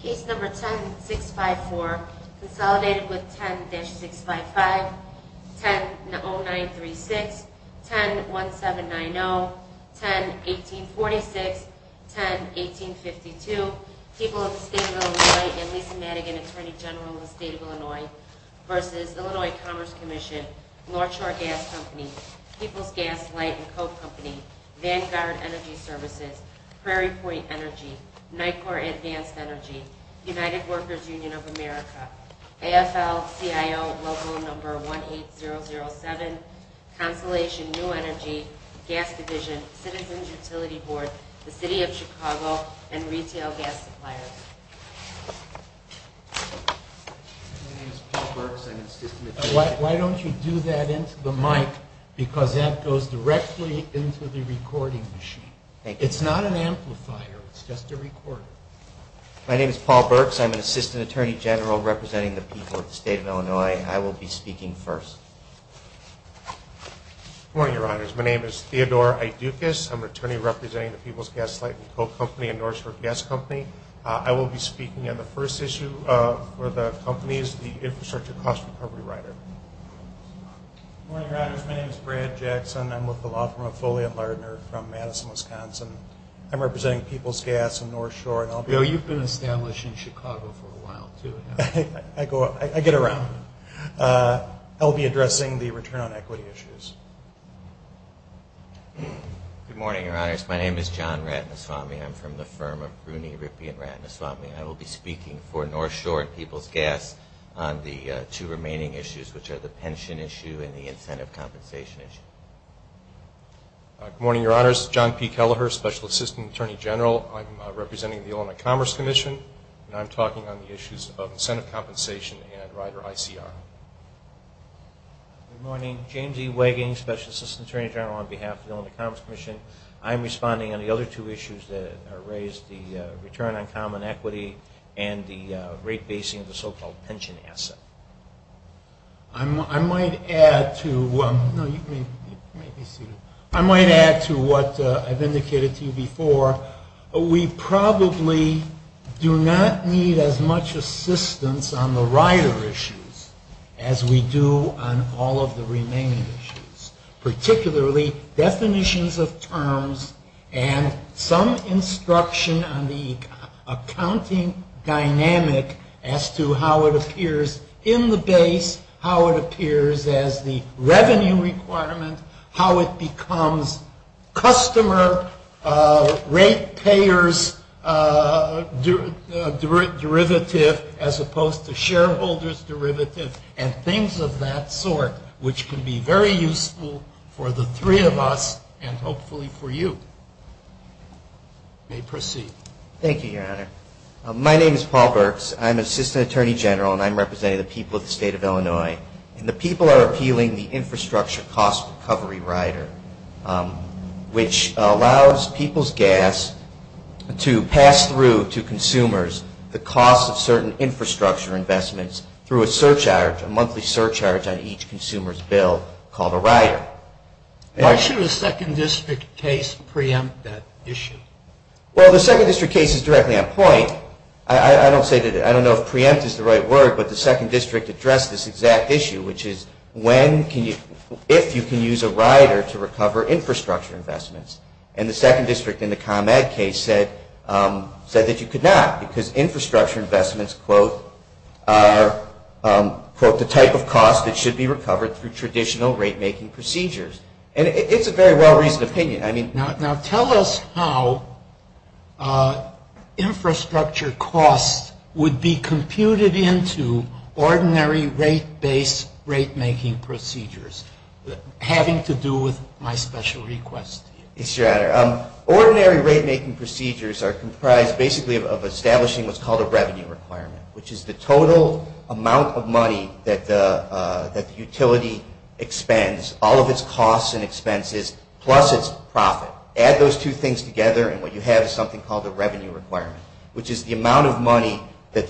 Case No. 10-654, consolidated with 10-655, 10-0936, 10-1790, 10-1846, 10-1852, People of the State of Illinois and Lisa Madigan, Attorney General of the State of Illinois, v. Illinois Commerce Commission, North Shore Gas Company, People's Gas, Light & Co. Company, Vanguard Energy Services, Prairie Point Energy, NICOR Advanced Energy, United Workers Union of America, AFL-CIO Local No. 18007, Consolation New Energy, Gas Division, Citizens Utility Board, the City of Chicago, and Retail Gas Suppliers. My name is Paul Burks. I'm an Assistant Attorney General representing the people of the State of Illinois. I will be speaking first. Good morning, Your Honors. My name is Theodore A. Dukas. I'm an attorney representing the People's Gas, Light & Co. Company and North Shore Gas Company. I will be speaking on the first issue of where the company is the infrastructure cost recovery rider. Good morning, Your Honors. My name is Brad Jackson. I'm with the law firm of Foley & Lerner from Madison, Wisconsin. I'm representing People's Gas and North Shore. Bill, you've been established in Chicago for a while, too. I get around. I'll be addressing the return on equity issues. Good morning, Your Honors. My name is John Ratnasamy. I'm from the firm of Rooney, Rippey & Ratnasamy. I will be speaking for North Shore and People's Gas on the two remaining issues, which are the pension issue and the incentive compensation issue. Good morning, Your Honors. John P. Kelleher, Special Assistant Attorney General. I'm representing the Illinois Commerce Commission, and I'm talking on the issues of incentive compensation and rider ICR. Good morning. James E. Wagon, Special Assistant Attorney General on behalf of the Illinois Commerce Commission. I'm responding on the other two issues that are raised, the return on common equity and the rate basing of the so-called pension asset. I might add to what I've indicated to you before. We probably do not need as much assistance on the rider issues as we do on all of the remaining issues, particularly definitions of terms and some instruction on the accounting dynamic as to how it appears in the base, how it appears as the revenue requirement, how it becomes customer rate payers derivative as opposed to shareholders derivative and things of that sort, which can be very useful for the three of us and hopefully for you. You may proceed. Thank you, Your Honor. My name is Paul Burks. I'm Assistant Attorney General, and I'm representing the people of the state of Illinois. And the people are appealing the infrastructure cost recovery rider, which allows people's gas to pass through to consumers the cost of certain infrastructure investments through a monthly surcharge on each consumer's bill called a rider. Why shouldn't a second district case preempt that issue? Well, the second district case is directly on point. I don't know if preempt is the right word, but the second district addressed this exact issue, which is if you can use a rider to recover infrastructure investments. And the second district in the ComEd case said that you could not because infrastructure investments, quote, are, quote, the type of cost that should be recovered through traditional rate-making procedures. And it's a very well-reasoned opinion. Now tell us how infrastructure costs would be computed into ordinary rate-based rate-making procedures, having to do with my special request. Yes, Your Honor. Ordinary rate-making procedures are comprised basically of establishing what's called a revenue requirement, which is the total amount of money that the utility expends, all of its costs and expenses, plus its profit. Add those two things together and what you have is something called a revenue requirement, which is the amount of money that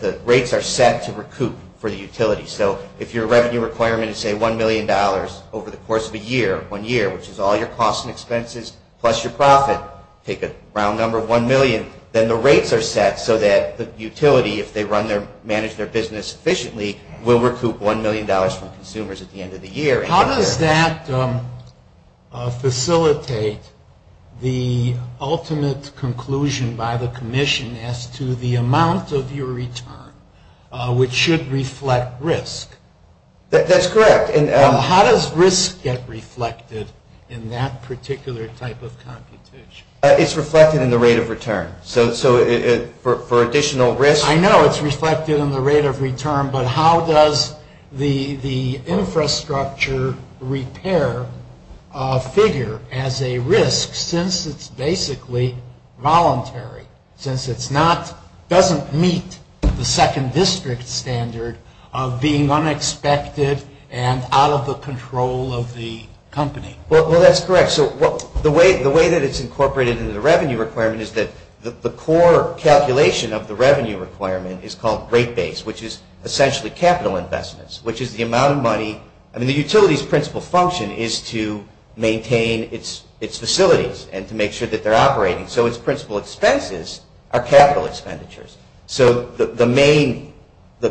the rates are set to recoup for the utility. So if your revenue requirement is, say, $1 million over the course of a year, one year, which is all your costs and expenses plus your profit, take a round number of $1 million, then the rates are set so that the utility, if they manage their business efficiently, will recoup $1 million from consumers at the end of the year. How does that facilitate the ultimate conclusion by the commission as to the amount of your return, which should reflect risk? That's correct. How does risk get reflected in that particular type of computation? It's reflected in the rate of return. So for additional risk? I know it's reflected in the rate of return, but how does the infrastructure repair figure as a risk since it's basically voluntary, since it doesn't meet the second district standard of being unexpected and out of the control of the company? Well, that's correct. So the way that it's incorporated in the revenue requirement is that the core calculation of the revenue requirement is called rate base, which is essentially capital investments, which is the amount of money. I mean, the utility's principal function is to maintain its facilities and to make sure that they're operating. So its principal expenses are capital expenditures. So the main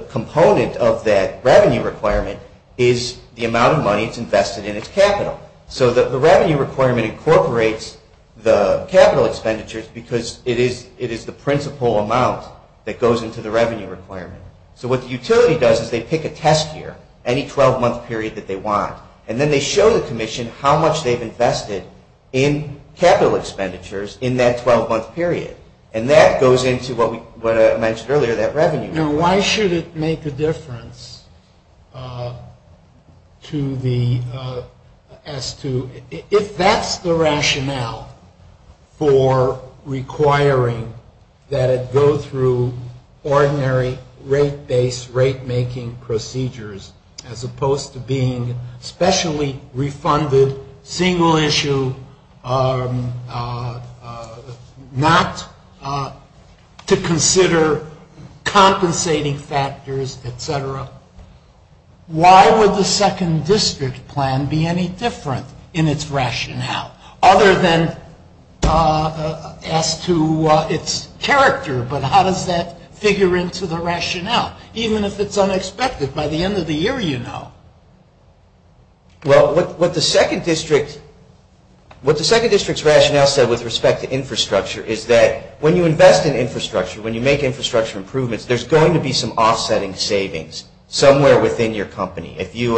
component of that revenue requirement is the amount of money that's invested in its capital. So the revenue requirement incorporates the capital expenditures because it is the principal amount that goes into the revenue requirement. So what the utility does is they pick a test year, any 12-month period that they want, and then they show the commission how much they've invested in capital expenditures in that 12-month period, and that goes into what I mentioned earlier, that revenue. And why should it make a difference to the S2? If that's the rationale for requiring that it go through ordinary rate-based, rate-making procedures as opposed to being specially refunded, single issue, not to consider compensating factors, et cetera, why would the second district plan be any different in its rationale other than as to its character? But how does that figure into the rationale, even if it's unexpected? By the end of the year, you know. Well, what the second district's rationale said with respect to infrastructure is that when you invest in infrastructure, when you make infrastructure improvements, there's going to be some offsetting savings somewhere within your company. If you,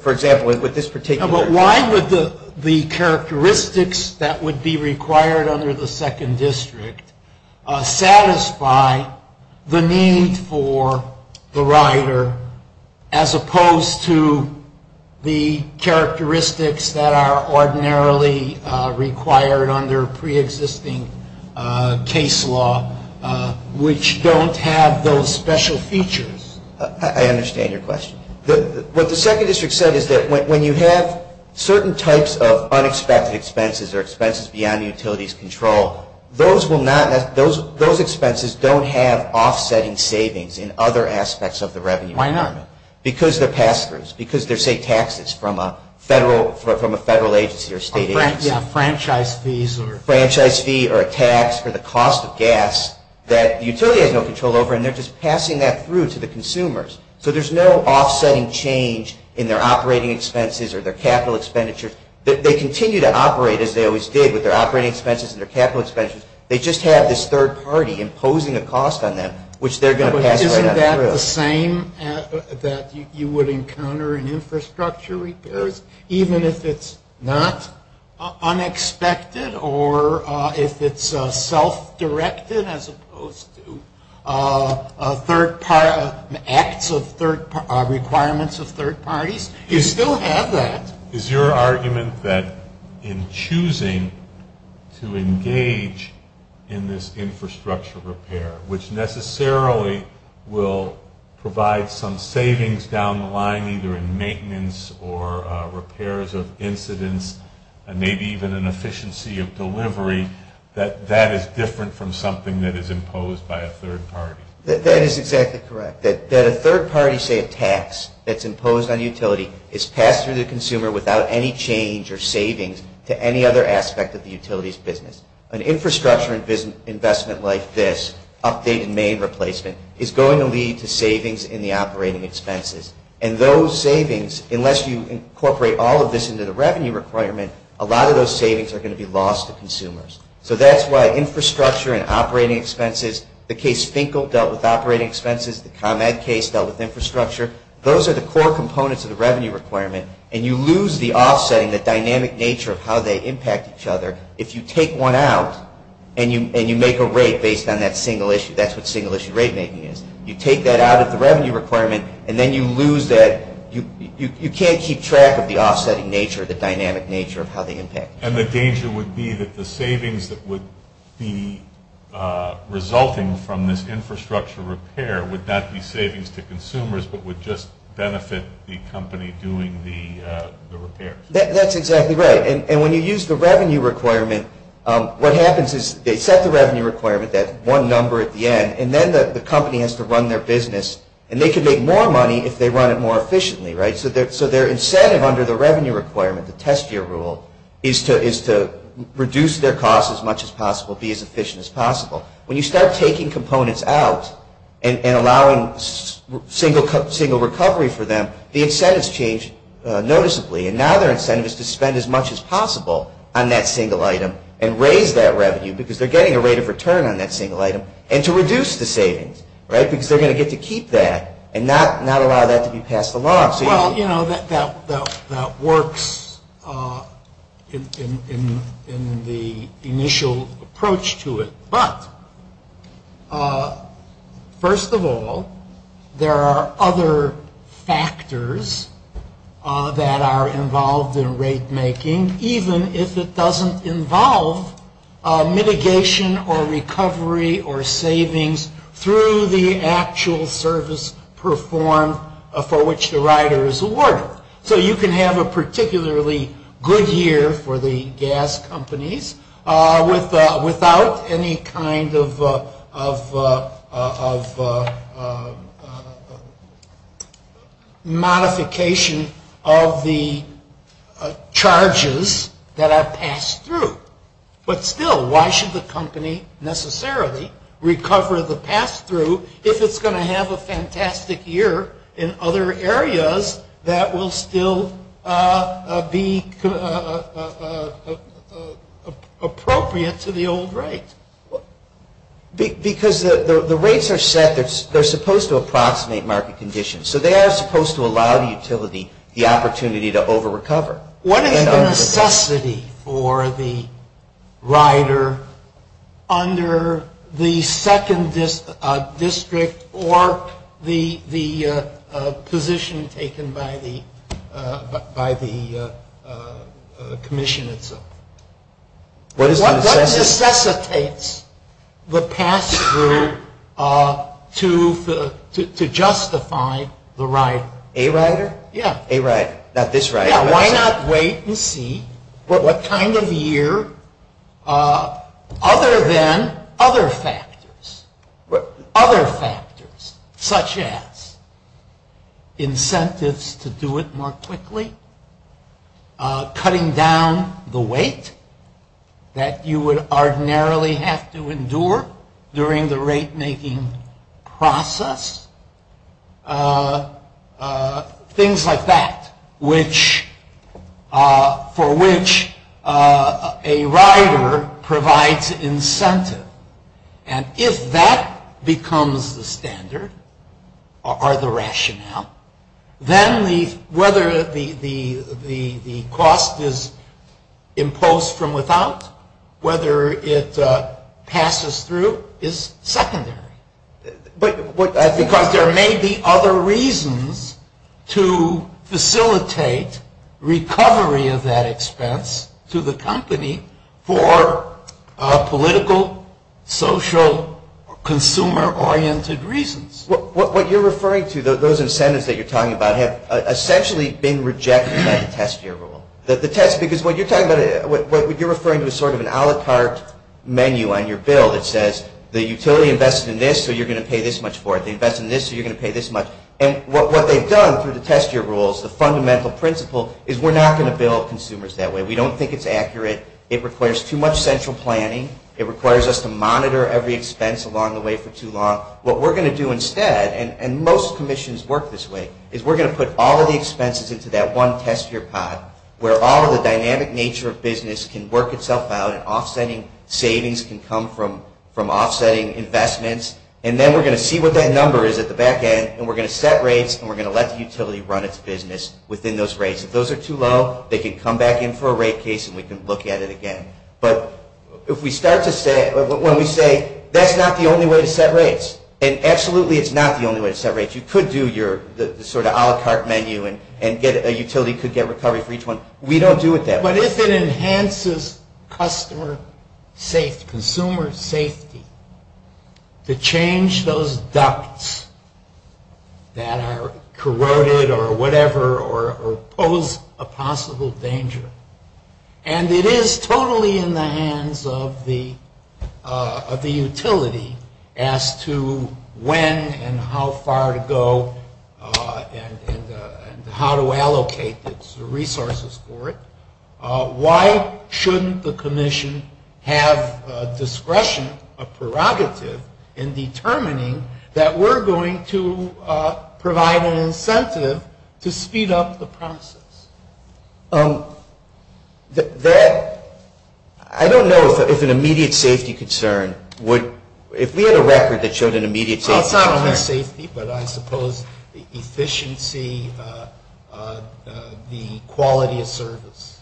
for example, with this particular... But why would the characteristics that would be required under the second district satisfy the need for the rider as opposed to the characteristics that are ordinarily required under preexisting case law, which don't have those special features? I understand your question. What the second district said is that when you have certain types of unexpected expenses or expenses beyond utilities' control, those expenses don't have offsetting savings in other aspects of the revenue stream. Why not? Because they're pass-throughs. Because they're, say, taxes from a federal agency or state agency. Franchise fees or... Franchise fees or a tax or the cost of gas that utilities have no control over and they're just passing that through to the consumers. So, there's no offsetting change in their operating expenses or their capital expenditures. They continue to operate as they always did with their operating expenses and their capital expenses. They just have this third party imposing a cost on them, which they're going to pass right on through. Isn't that the same that you would encounter in infrastructure repairs, even if it's not unexpected or if it's self-directed as opposed to a third party... Requirements of third parties? You still have that. Is your argument that in choosing to engage in this infrastructure repair, which necessarily will provide some savings down the line either in maintenance or repairs of incidents and maybe even an efficiency of delivery, that that is different from something that is imposed by a third party? That is exactly correct. That a third party, say, a tax that's imposed on a utility is passed through the consumer without any change or savings to any other aspect of the utility's business. An infrastructure investment like this, update and main replacement, is going to lead to savings in the operating expenses. And those savings, unless you incorporate all of this into the revenue requirement, a lot of those savings are going to be lost to consumers. So that's why infrastructure and operating expenses, the case Finkel dealt with operating expenses, the ComEd case dealt with infrastructure, those are the core components of the revenue requirement, and you lose the offset and the dynamic nature of how they impact each other if you take one out and you make a rate based on that single issue. That's what single issue rate making is. You take that out of the revenue requirement, and then you lose that, you can't keep track of the offsetting nature, the dynamic nature of how they impact. And the danger would be that the savings that would be resulting from this infrastructure repair would not be savings to consumers but would just benefit the company doing the repairs. That's exactly right. And when you use the revenue requirement, what happens is they set the revenue requirement, that one number at the end, and then the company has to run their business, and they can make more money if they run it more efficiently, right? So their incentive under the revenue requirement, the test year rule, is to reduce their cost as much as possible, be as efficient as possible. When you start taking components out and allowing single recovery for them, the incentive has changed noticeably, and now their incentive is to spend as much as possible on that single item and raise that revenue because they're getting a rate of return on that single item, and to reduce the savings, right, because they're going to get to keep that and not allow that to be passed along. Well, you know, that works in the initial approach to it, but first of all, there are other factors that are involved in rate making, even if it doesn't involve mitigation or recovery or savings through the actual service performed for which the rider is awarded. So you can have a particularly good year for the gas companies without any kind of modification of the charges that are passed through. But still, why should the company necessarily recover the pass-through if it's going to have a fantastic year in other areas that will still be appropriate to the old rate? Because the rates are set, they're supposed to approximate market conditions, so they are supposed to allow the utility the opportunity to over-recover. What is the necessity for the rider under the second district or the position taken by the commission itself? What necessitates the pass-through to justify the rider? A rider? Yeah. A rider. Not this rider. Why not wait and see what kind of year, other than other factors, such as incentives to do it more quickly, cutting down the weight that you would ordinarily have to endure during the rate-making process, things like that for which a rider provides incentive. And if that becomes the standard or the rationale, then whether the cost is imposed from without, whether it passes through, is secondary. But there may be other reasons to facilitate recovery of that expense to the company for political, social, consumer-oriented reasons. What you're referring to, those incentives that you're talking about, have essentially been rejected by the test year rule. Because what you're referring to is sort of an a la carte menu on your bill that says, the utility invests in this, so you're going to pay this much for it. They invest in this, so you're going to pay this much. And what they've done through the test year rules, the fundamental principle is we're not going to bill consumers that way. We don't think it's accurate. It requires too much central planning. It requires us to monitor every expense along the way for too long. What we're going to do instead, and most commissions work this way, is we're going to put all of the expenses into that one test year five, where all of the dynamic nature of business can work itself out, and offsetting savings can come from offsetting investments. And then we're going to see what that number is at the back end, and we're going to set rates and we're going to let the utility run its business within those rates. If those are too low, they can come back in for a rate case and we can look at it again. But if we start to say, when we say, that's not the only way to set rates, and absolutely it's not the only way to set rates. You could do your sort of a la carte menu and get a utility to get recovery for each one. We don't do it that way. But if it enhances consumer safety, to change those ducts that are corroded or whatever, or pose a possible danger, and it is totally in the hands of the utility as to when and how far to go and how to allocate the resources for it, why shouldn't the commission have discretion, a prerogative, in determining that we're going to provide an incentive to speed up the process? I don't know if it's an immediate safety concern. If we had a record that showed an immediate safety concern. I'll comment on safety, but I suppose the efficiency, the quality of service.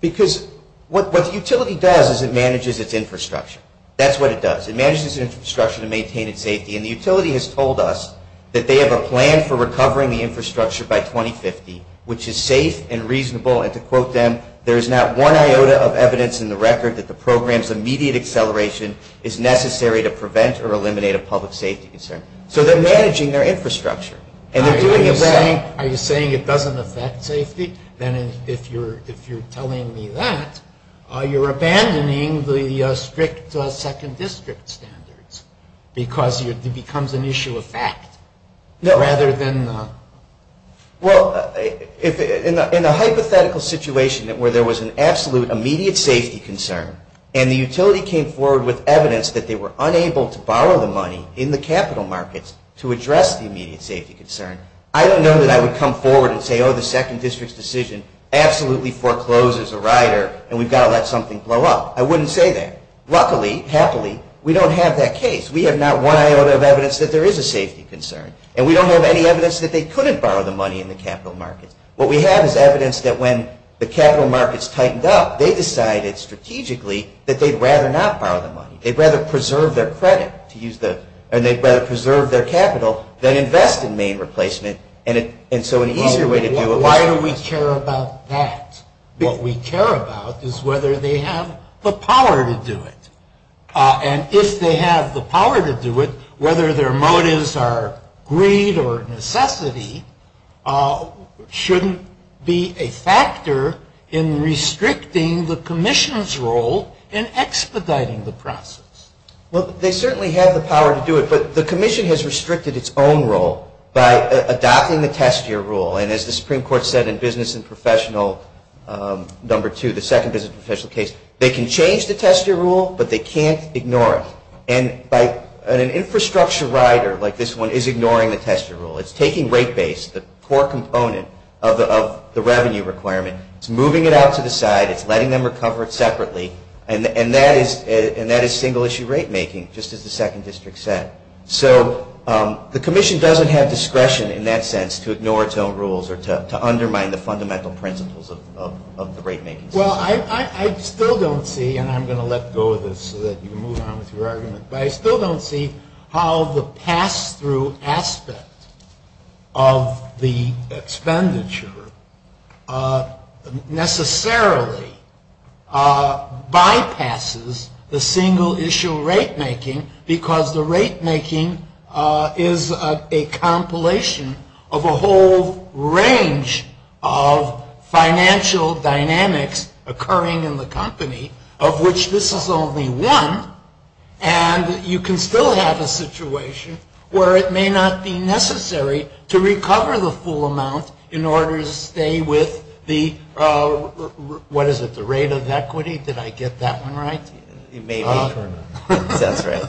Because what the utility does is it manages its infrastructure. That's what it does. It manages its infrastructure to maintain its safety. And the utility has told us that they have a plan for recovering the infrastructure by 2050, which is safe and reasonable, and to quote them, there's not one iota of evidence in the record that the program's immediate acceleration is necessary to prevent or eliminate a public safety concern. So they're managing their infrastructure. Are you saying it doesn't affect safety? Then if you're telling me that, you're abandoning the strict second district standards, because it becomes an issue of act rather than... Well, in a hypothetical situation where there was an absolute immediate safety concern and the utility came forward with evidence that they were unable to borrow the money in the capital markets to address the immediate safety concern, I don't know that I would come forward and say, oh, the second district's decision absolutely forecloses a rider and we've got to let something flow up. I wouldn't say that. Luckily, happily, we don't have that case. We have not one iota of evidence that there is a safety concern. And we don't have any evidence that they couldn't borrow the money in the capital market. What we have is evidence that when the capital markets tightened up, they decided strategically that they'd rather not borrow the money. They'd rather preserve their credit and they'd rather preserve their capital than invest in main replacement. And so an easier way to do it... Why would we care about that? What we care about is whether they have the power to do it. And if they have the power to do it, whether their motives are greed or necessity, shouldn't be a factor in restricting the commission's role in expediting the process. Well, they certainly have the power to do it, but the commission has restricted its own role by adopting the test year rule. And as the Supreme Court said in business and professional number two, the second business and professional case, they can change the test year rule, but they can't ignore it. And an infrastructure rider like this one is ignoring the test year rule. It's taking rate base, the core component of the revenue requirement, it's moving it out to the side, it's letting them recover it separately, and that is single issue rate making, just as the second district said. So the commission doesn't have discretion in that sense to ignore its own rules or to undermine the fundamental principles of the rate making. Well, I still don't see, and I'm going to let go of this so that you can move on with your argument, but I still don't see how the pass-through aspect of the expenditure necessarily bypasses the single issue rate making, because the rate making is a compilation of a whole range of financial dynamics occurring in the company, of which this is only one, and you can still have a situation where it may not be necessary to recover the full amount in order to stay with the, what is it, the rate of equity? Did I get that one right? It may be. That's right.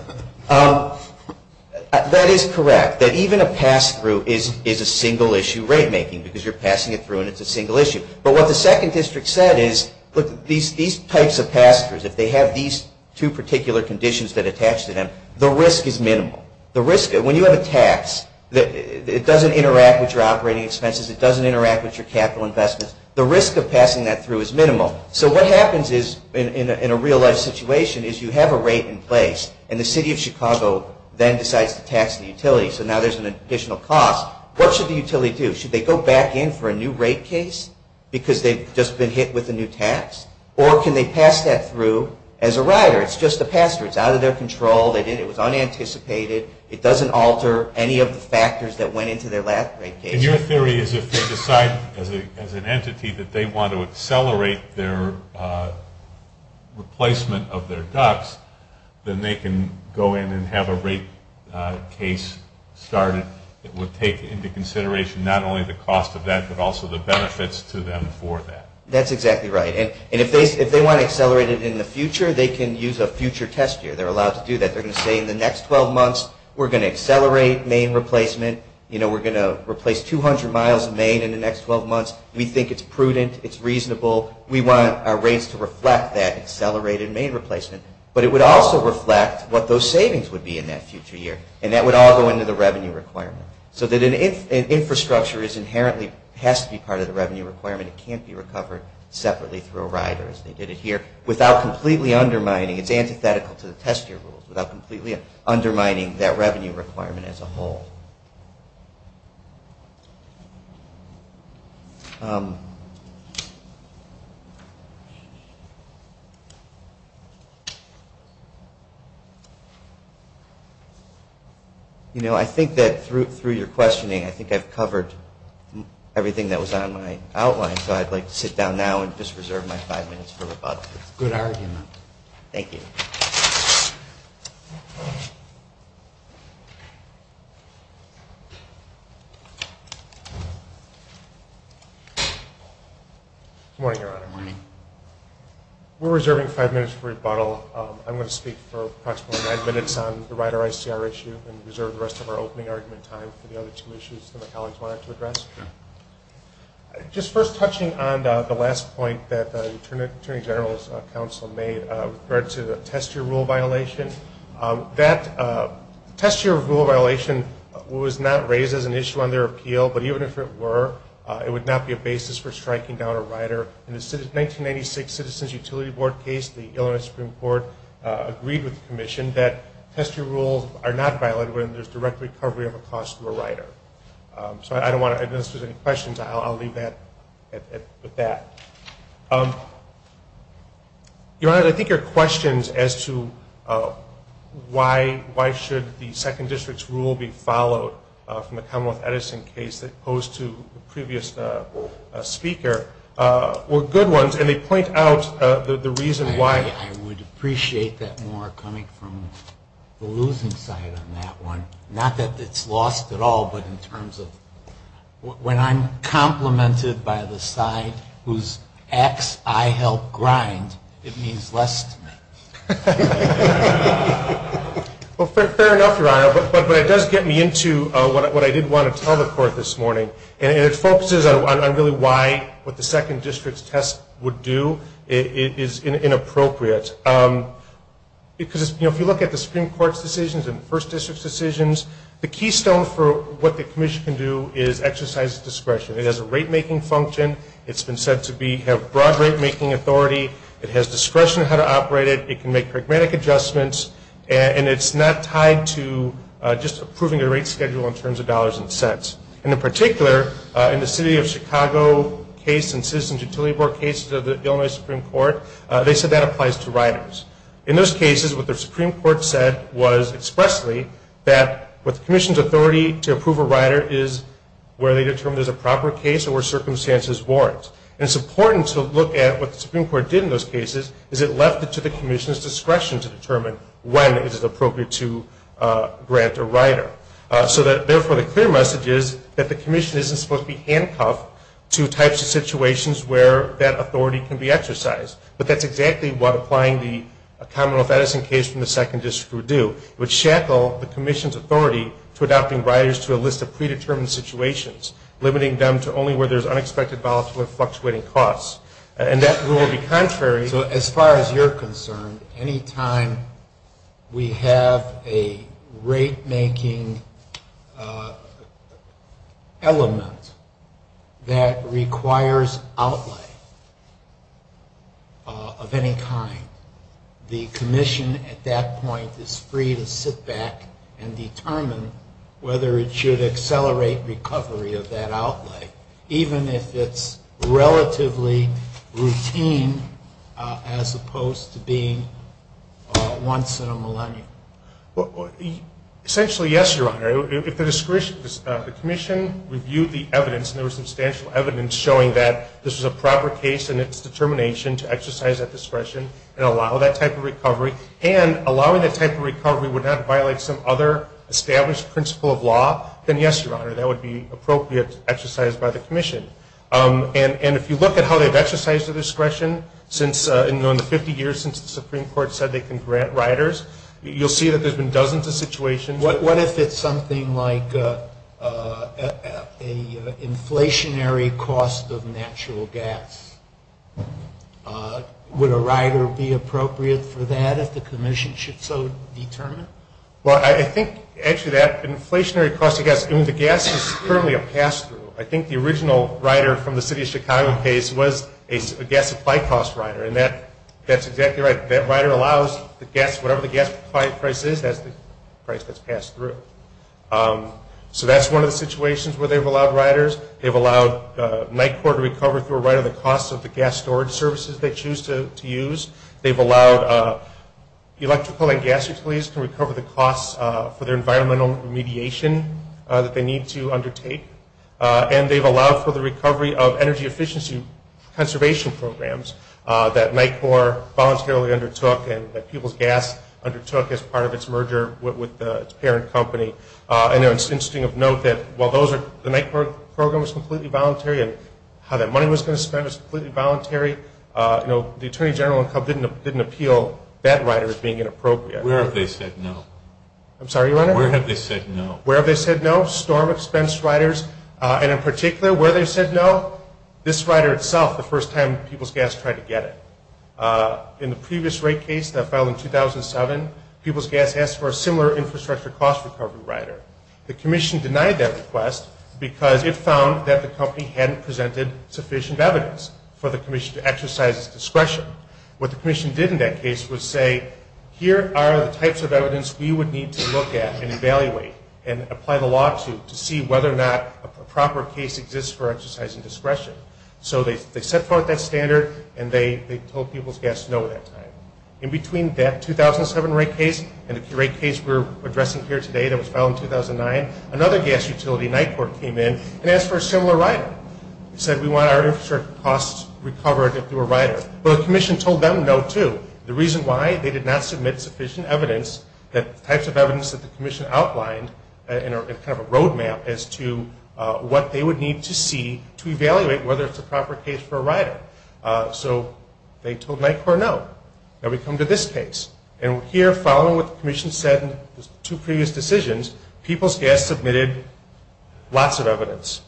That is correct, that even a pass-through is a single issue rate making, because you're passing it through and it's a single issue. But what the second district said is these types of pass-throughs, if they have these two particular conditions that attach to them, the risk is minimal. The risk, when you have a tax, it doesn't interact with your operating expenses, it doesn't interact with your capital investments. The risk of passing that through is minimal. So what happens in a real-life situation is you have a rate in place, and the city of Chicago then decides to tax the utility, so now there's an additional cost. What should the utility do? Should they go back in for a new rate case because they've just been hit with a new tax, or can they pass that through as a rider? It's just a pass-through. It's out of their control. It was unanticipated. It doesn't alter any of the factors that went into their last rate case. And your theory is if they decide, as an entity, that they want to accelerate their replacement of their ducts, then they can go in and have a rate case started that would take into consideration not only the cost of that but also the benefits to them for that. That's exactly right. And if they want to accelerate it in the future, they can use a future test year. They're allowed to do that. They're going to say in the next 12 months we're going to accelerate main replacement, we're going to replace 200 miles of main in the next 12 months. We think it's prudent. It's reasonable. We want our rates to reflect that accelerated main replacement. But it would also reflect what those savings would be in that future year, and that would all go into the revenue requirement. So an infrastructure inherently has to be part of the revenue requirement. It can't be recovered separately through a rider, as they did it here, without completely undermining it. It's antithetical to the test year rules, without completely undermining that revenue requirement as a whole. You know, I think that through your questioning, I think I've covered everything that was on my outline, so I'd like to sit down now and just reserve my five minutes for the public. Good argument. Thank you. Thank you. Good morning, Your Honor. Good morning. We're reserving five minutes for rebuttal. I'm going to speak for approximately nine minutes on the rider ICR issue and reserve the rest of our opening argument time for the other two issues that my colleagues wanted to address. Just first touching on the last point that the Attorney General's counsel made with regard to the test year rule violation. That test year rule violation was not raised as an issue under appeal, but even if it were, it would not be a basis for striking down a rider. In the 1996 Citizens Utility Board case, the Illinois Supreme Court agreed with the Commission that test year rules are not violated when there's direct recovery of a cost to a rider. So I don't want to – I don't know if there's any questions. I'll leave that at that. Your Honor, I think your questions as to why should the second district's rule be followed from the Cumberland Edison case that posed to the previous speaker were good ones, and they point out the reason why. I would appreciate that more coming from the losing side on that one. Not that it's lost at all, but in terms of when I'm complimented by the side whose acts I help grind, it means less to me. Well, fair enough, Your Honor. But it does get me into what I did want to tell the Court this morning, and it focuses on really why what the second district's test would do is inappropriate. Because, you know, if you look at the Supreme Court's decisions and the first district's decisions, the keystone for what the Commission can do is exercise discretion. It has a rate-making function. It's been said to have broad rate-making authority. It has discretion on how to operate it. It can make pragmatic adjustments, and it's not tied to just approving a rate schedule in terms of dollars and cents. And in particular, in the City of Chicago case and Citizens Utility Board cases of the Illinois Supreme Court, they said that applies to riders. In those cases, what the Supreme Court said was expressly that what the Commission's And it's important to look at what the Supreme Court did in those cases is it left it to the Commission's discretion to determine when it is appropriate to grant a rider. So therefore the clear message is that the Commission isn't supposed to be handcuffed to types of situations where that authority can be exercised. But that's exactly what applying the common law medicine case from the second district would do. It would shackle the Commission's authority to adopting riders to a list of predetermined situations, limiting them to only where there's unexpected balance with fluctuating costs. And that would be contrary. So as far as you're concerned, any time we have a rate-making element that requires outlay of any kind, the Commission at that point is free to sit back and determine whether it should accelerate recovery of that outlay, even if it's relatively routine as opposed to being once in a millennium. Essentially, yes, Your Honor. If the discretion of the Commission reviewed the evidence, and there was substantial evidence showing that this was a proper case and its determination to exercise that discretion and allow that type of recovery, and allowing that type of recovery would not violate some other established principle of law, then yes, Your Honor, that would be appropriate to exercise by the Commission. And if you look at how they've exercised the discretion in the 50 years since the Supreme Court said they can grant riders, you'll see that there's been dozens of situations. What if it's something like an inflationary cost of natural gas? Would a rider be appropriate for that if the Commission should so determine? Well, I think actually that inflationary cost of gas, the gas is currently a pass-through. I think the original rider from the City of Chicago case was a gas supply cost rider, and that's exactly right. That rider allows whatever the gas supply price is, that's the price that's passed through. So that's one of the situations where they've allowed riders. They've allowed NICOR to recover through a rider the cost of the gas storage services they choose to use. They've allowed the electrical and gas employees to recover the costs for their environmental remediation that they need to undertake. And they've allowed for the recovery of energy efficiency conservation programs that NICOR voluntarily undertook and that Peoples Gas undertook as part of its merger with its parent company. It's interesting to note that while the NICOR program was completely voluntary and how that money was going to spend was completely voluntary, the Attorney General didn't appeal that rider as being inappropriate. Where have they said no? I'm sorry, your Honor? Where have they said no? Where have they said no? Storm-expensed riders, and in particular, where they said no? This rider itself, the first time Peoples Gas tried to get it. In the previous rate case that filed in 2007, Peoples Gas asked for a similar infrastructure cost recovery rider. The Commission denied that request because it found that the company hadn't presented sufficient evidence for the Commission to exercise its discretion. What the Commission did in that case was say, here are the types of evidence we would need to look at and evaluate and apply the law to to see whether or not a proper case exists for exercising discretion. So they set forth that standard and they told Peoples Gas no at that time. In between that 2007 rate case and the rate case we're addressing here today that was filed in 2009, another gas utility, NICOR, came in and asked for a similar rider. They said, we want our infrastructure costs recovered through a rider. But the Commission told them no too. The reason why? They did not submit sufficient evidence, the types of evidence that the Commission outlined as kind of a roadmap as to what they would need to see to evaluate whether it's the proper case for a rider. So they told NICOR no. Now we come to this case. And here, following what the Commission said in the two previous decisions, Peoples Gas submitted lots of evidence.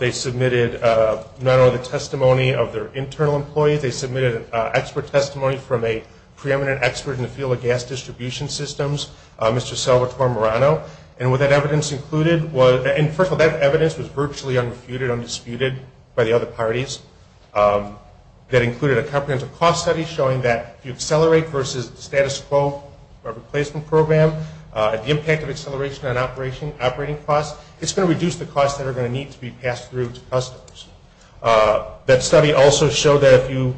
They submitted not only the testimony of their internal employee, they submitted expert testimony from a preeminent expert in the field of gas distribution systems, Mr. Salvatore Marano. And what that evidence included was, and first of all, that evidence was virtually undisputed by the other parties. That included a comprehensive cost study showing that you accelerate versus status quo or replacement program, the impact of acceleration on operating costs, it's going to reduce the costs that are going to need to be passed through to customers. That study also showed that if you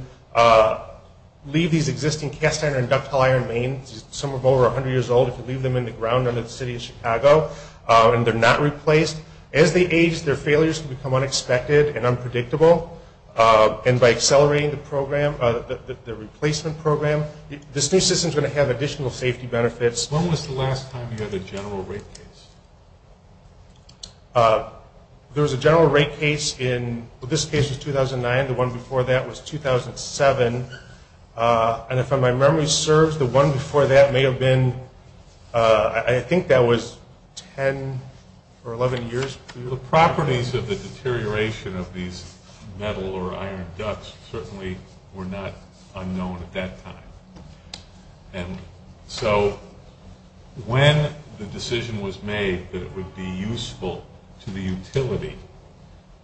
leave these existing cast iron and ductile iron mains, some of them are over 100 years old, if you leave them in the ground under the city of Chicago, and they're not replaced, as they age, their failures can become unexpected and unpredictable. And by accelerating the program, the replacement program, this new system is going to have additional safety benefits. When was the last time you had a general rate case? There was a general rate case in, well, this case was 2009. The one before that was 2007. And if my memory serves, the one before that may have been, I think that was 10 or 11 years. The properties of the deterioration of these metal or iron ducts certainly were not unknown at that time. And so when the decision was made that it would be useful to the utility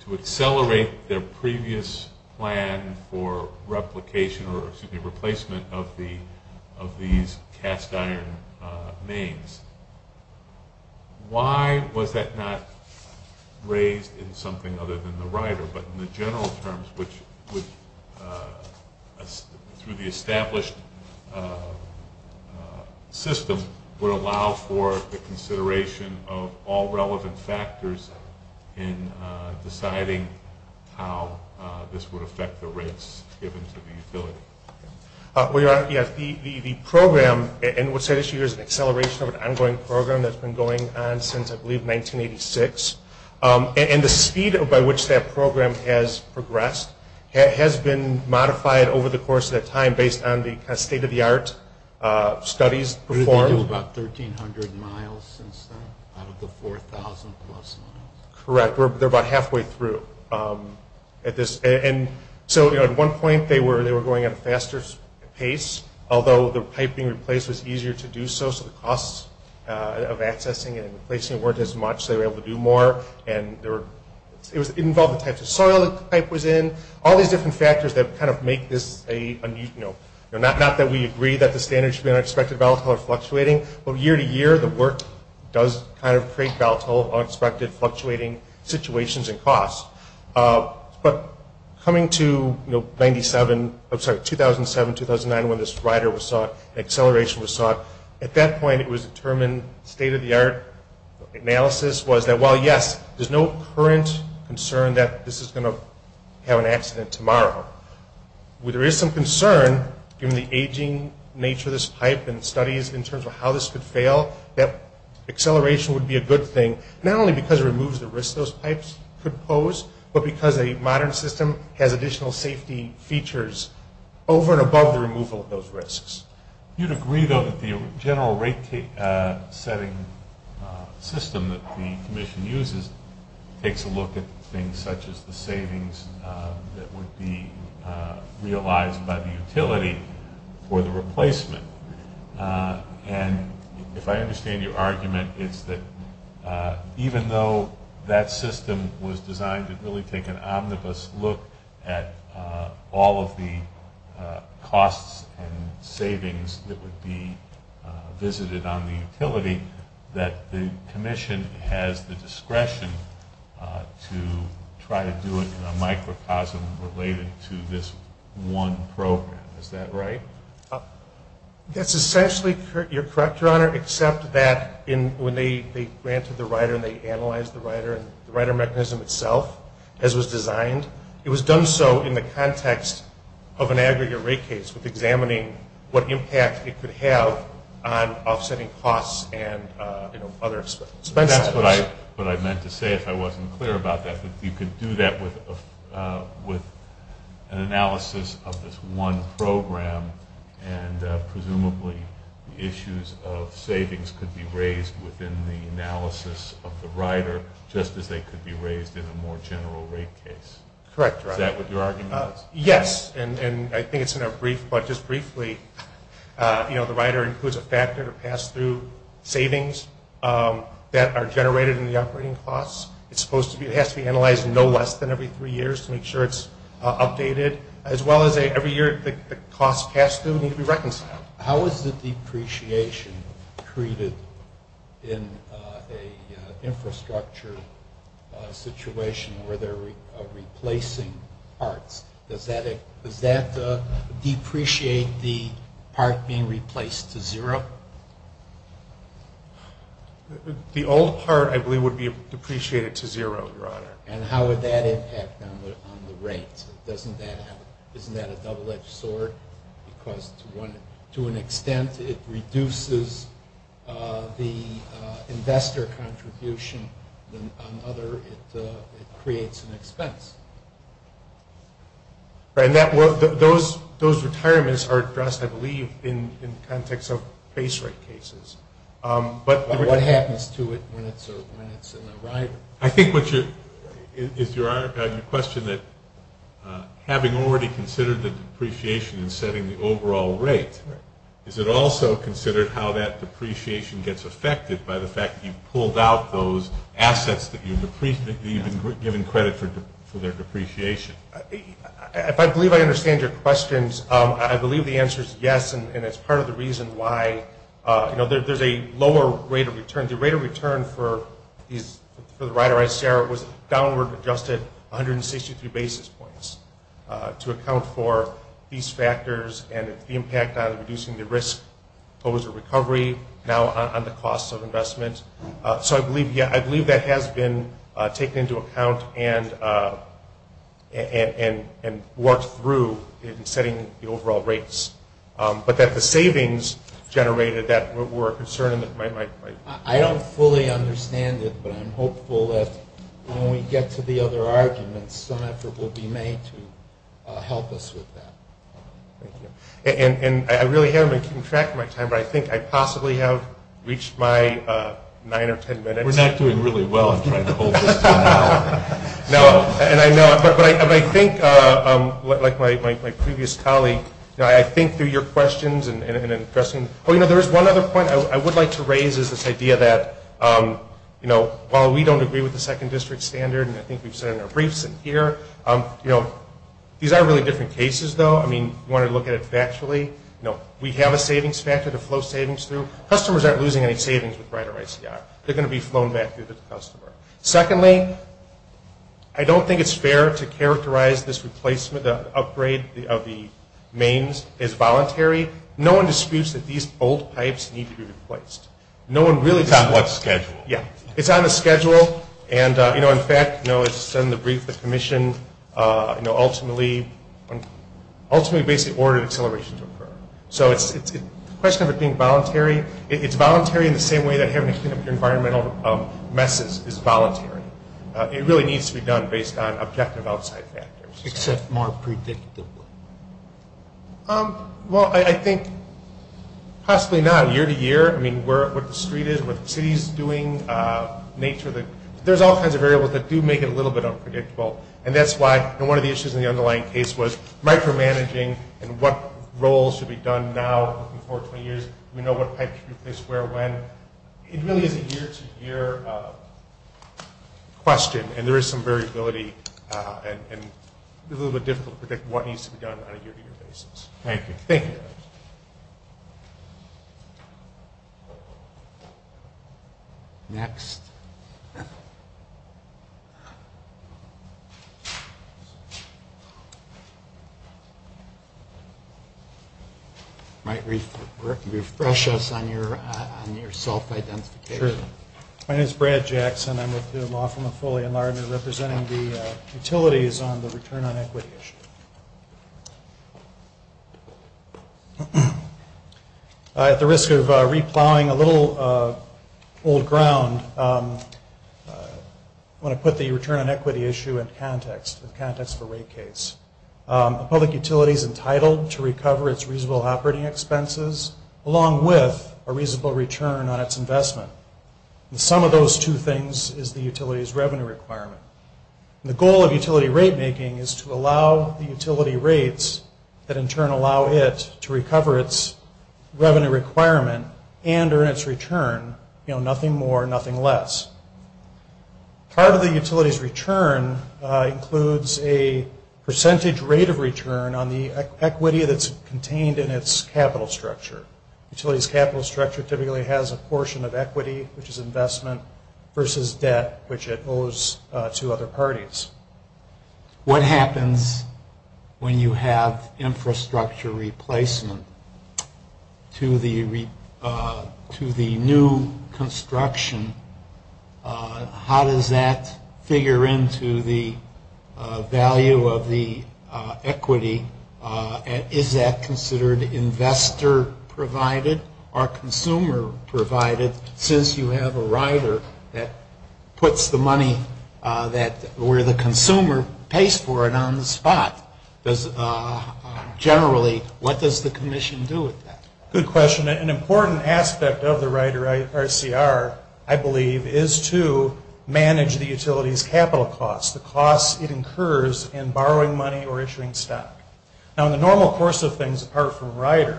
to accelerate their previous plan for replication or, excuse me, replacement of these cast iron mains, why was that not raised in something other than the rider, but in the general terms, which would, through the established system, would allow for the consideration of all relevant factors in deciding how this would affect the rates given to the utility? The program, and we'll say this year, is an acceleration of an ongoing program that's been going on since, I believe, 1986. And the speed by which that program has progressed has been modified over the course of that time based on the state-of-the-art studies performed. We've been doing about 1,300 miles since then out of the 4,000 plus miles. Correct. They're about halfway through. And so at one point they were going at a faster pace, although the pipe being replaced was easier to do so, so the costs of accessing and replacing weren't as much, so they were able to do more. And it involved the types of soil that the pipe was in, all these different factors that kind of make this, not that we agree that the standards should be unexpected, volatile, or fluctuating, but year-to-year the work does kind of trace volatile, unexpected, fluctuating situations and costs. But coming to 2007-2009 when this rider was sought, acceleration was sought, at that point it was determined, state-of-the-art analysis was that, well, yes, there's no current concern that this is going to have an accident tomorrow. Where there is some concern, given the aging nature of this pipe and studies in terms of how this could fail, that acceleration would be a good thing, not only because it removes the risk those pipes could pose, but because a modern system has additional safety features over and above the removal of those risks. You'd agree, though, that the general rate-setting system that the commission uses takes a look at things such as the savings that would be realized by the utility for the replacement. And if I understand your argument, it's that even though that system was designed to really take an omnibus look at all of the costs and savings that would be visited on the utility, that the commission has the discretion to try to do it in a microcosm related to this one program. Is that right? That's essentially correct, Your Honor, except that when they ran through the rider and they analyzed the rider, the rider mechanism itself, as it was designed, it was done so in the context of an aggregate rate case, examining what impact it could have on offsetting costs and other expenses. That's what I meant to say. If I wasn't clear about that, you could do that with an analysis of this one program and presumably issues of savings could be raised within the analysis of the rider, just as they could be raised in a more general rate case. Correct, Your Honor. Is that what you're arguing? Yes, and I think it's in our brief, but just briefly, the rider includes a factor to pass through savings that are generated in the operating costs. It has to be analyzed no less than every three years to make sure it's updated, as well as every year the cost passed through needs to be reconciled. How is the depreciation treated in an infrastructure situation where they're replacing parts? Does that depreciate the part being replaced to zero? The old part, I believe, would be depreciated to zero, Your Honor. And how would that impact on the rates? Doesn't that happen? Isn't that a double-edged sword? Because to an extent, it reduces the investor contribution. On the other, it creates an expense. Those retirements are addressed, I believe, in the context of base rate cases. What happens to it when it's in a rider? I think it's your question that having already considered the depreciation and setting the overall rate, is it also considered how that depreciation gets affected by the fact that you've pulled out those assets that you've given credit for their depreciation? If I believe I understand your questions, I believe the answer is yes, and it's part of the reason why there's a lower rate of return. The rate of return for the rider was downward adjusted 162 basis points to account for these factors and the impact on reducing the risk posed to recovery now on the cost of investments. So I believe that has been taken into account and worked through in setting the overall rates. But that the savings generated that were a concern. I don't fully understand it, but I'm hopeful that when we get to the other arguments, some effort will be made to help us with that. And I really haven't been keeping track of my time, but I think I possibly have reached my nine or ten minutes. We're not doing really well in trying to hold this down. But I think, like my previous colleague, I think through your questions, there's one other point I would like to raise is this idea that while we don't agree with the second district standard, and I think we've said it in a recent year, these aren't really different cases, though. I mean, you want to look at it factually. We have a savings factor to flow savings through. Customers aren't losing any savings with Rider ICI. They're going to be flown back to the customer. Secondly, I don't think it's fair to characterize this replacement, the upgrade of the mains as voluntary. No one disputes that these old pipes need to be replaced. No one really does. It's on the schedule. Yeah. It's on the schedule. And, you know, in fact, it's in the brief the commission ultimately basically ordered acceleration to occur. So it's a question of it being voluntary. It's voluntary in the same way that every single environmental message is voluntary. It really needs to be done based on objective outside factors. Except more predictively. Well, I think possibly not. Year to year. I mean, what the street is, what the city is doing, nature. There's all kinds of variables that do make it a little bit unpredictable, and that's why one of the issues in the underlying case was micromanaging and what roles should be done now and how important it is. We know what pipe is where when. It really is a year to year question, and there is some variability and it's a little bit difficult to predict what needs to be done on a year to year basis. Thank you. Thank you. Next. All right. Refresh us on your self-identification. My name is Brad Jackson. I'm with the Laughlin Affiliate, and I'm representing the utilities on the return on equity issue. At the risk of replowing a little old ground, I want to put the return on equity issue in context, the context of the rate case. The public utility is entitled to recover its reasonable operating expenses along with a reasonable return on its investment. Some of those two things is the utility's revenue requirement. The goal of utility rate making is to allow the utility rates that in turn allow it to recover its revenue requirement and earn its return, nothing more, nothing less. Part of the utility's return includes a percentage rate of return on the equity that's contained in its capital structure. Utility's capital structure typically has a portion of equity, which is investment, versus debt, which it owes to other parties. What happens when you have infrastructure replacement to the new construction? How does that figure into the value of the equity? Is that considered investor-provided or consumer-provided? Since you have a rider that puts the money where the consumer pays for it on the spot, generally, what does the commission do with that? Good question. An important aspect of the Rider RCR, I believe, is to manage the utility's capital costs, the costs it incurs in borrowing money or issuing stuff. Now, the normal course of things apart from Rider,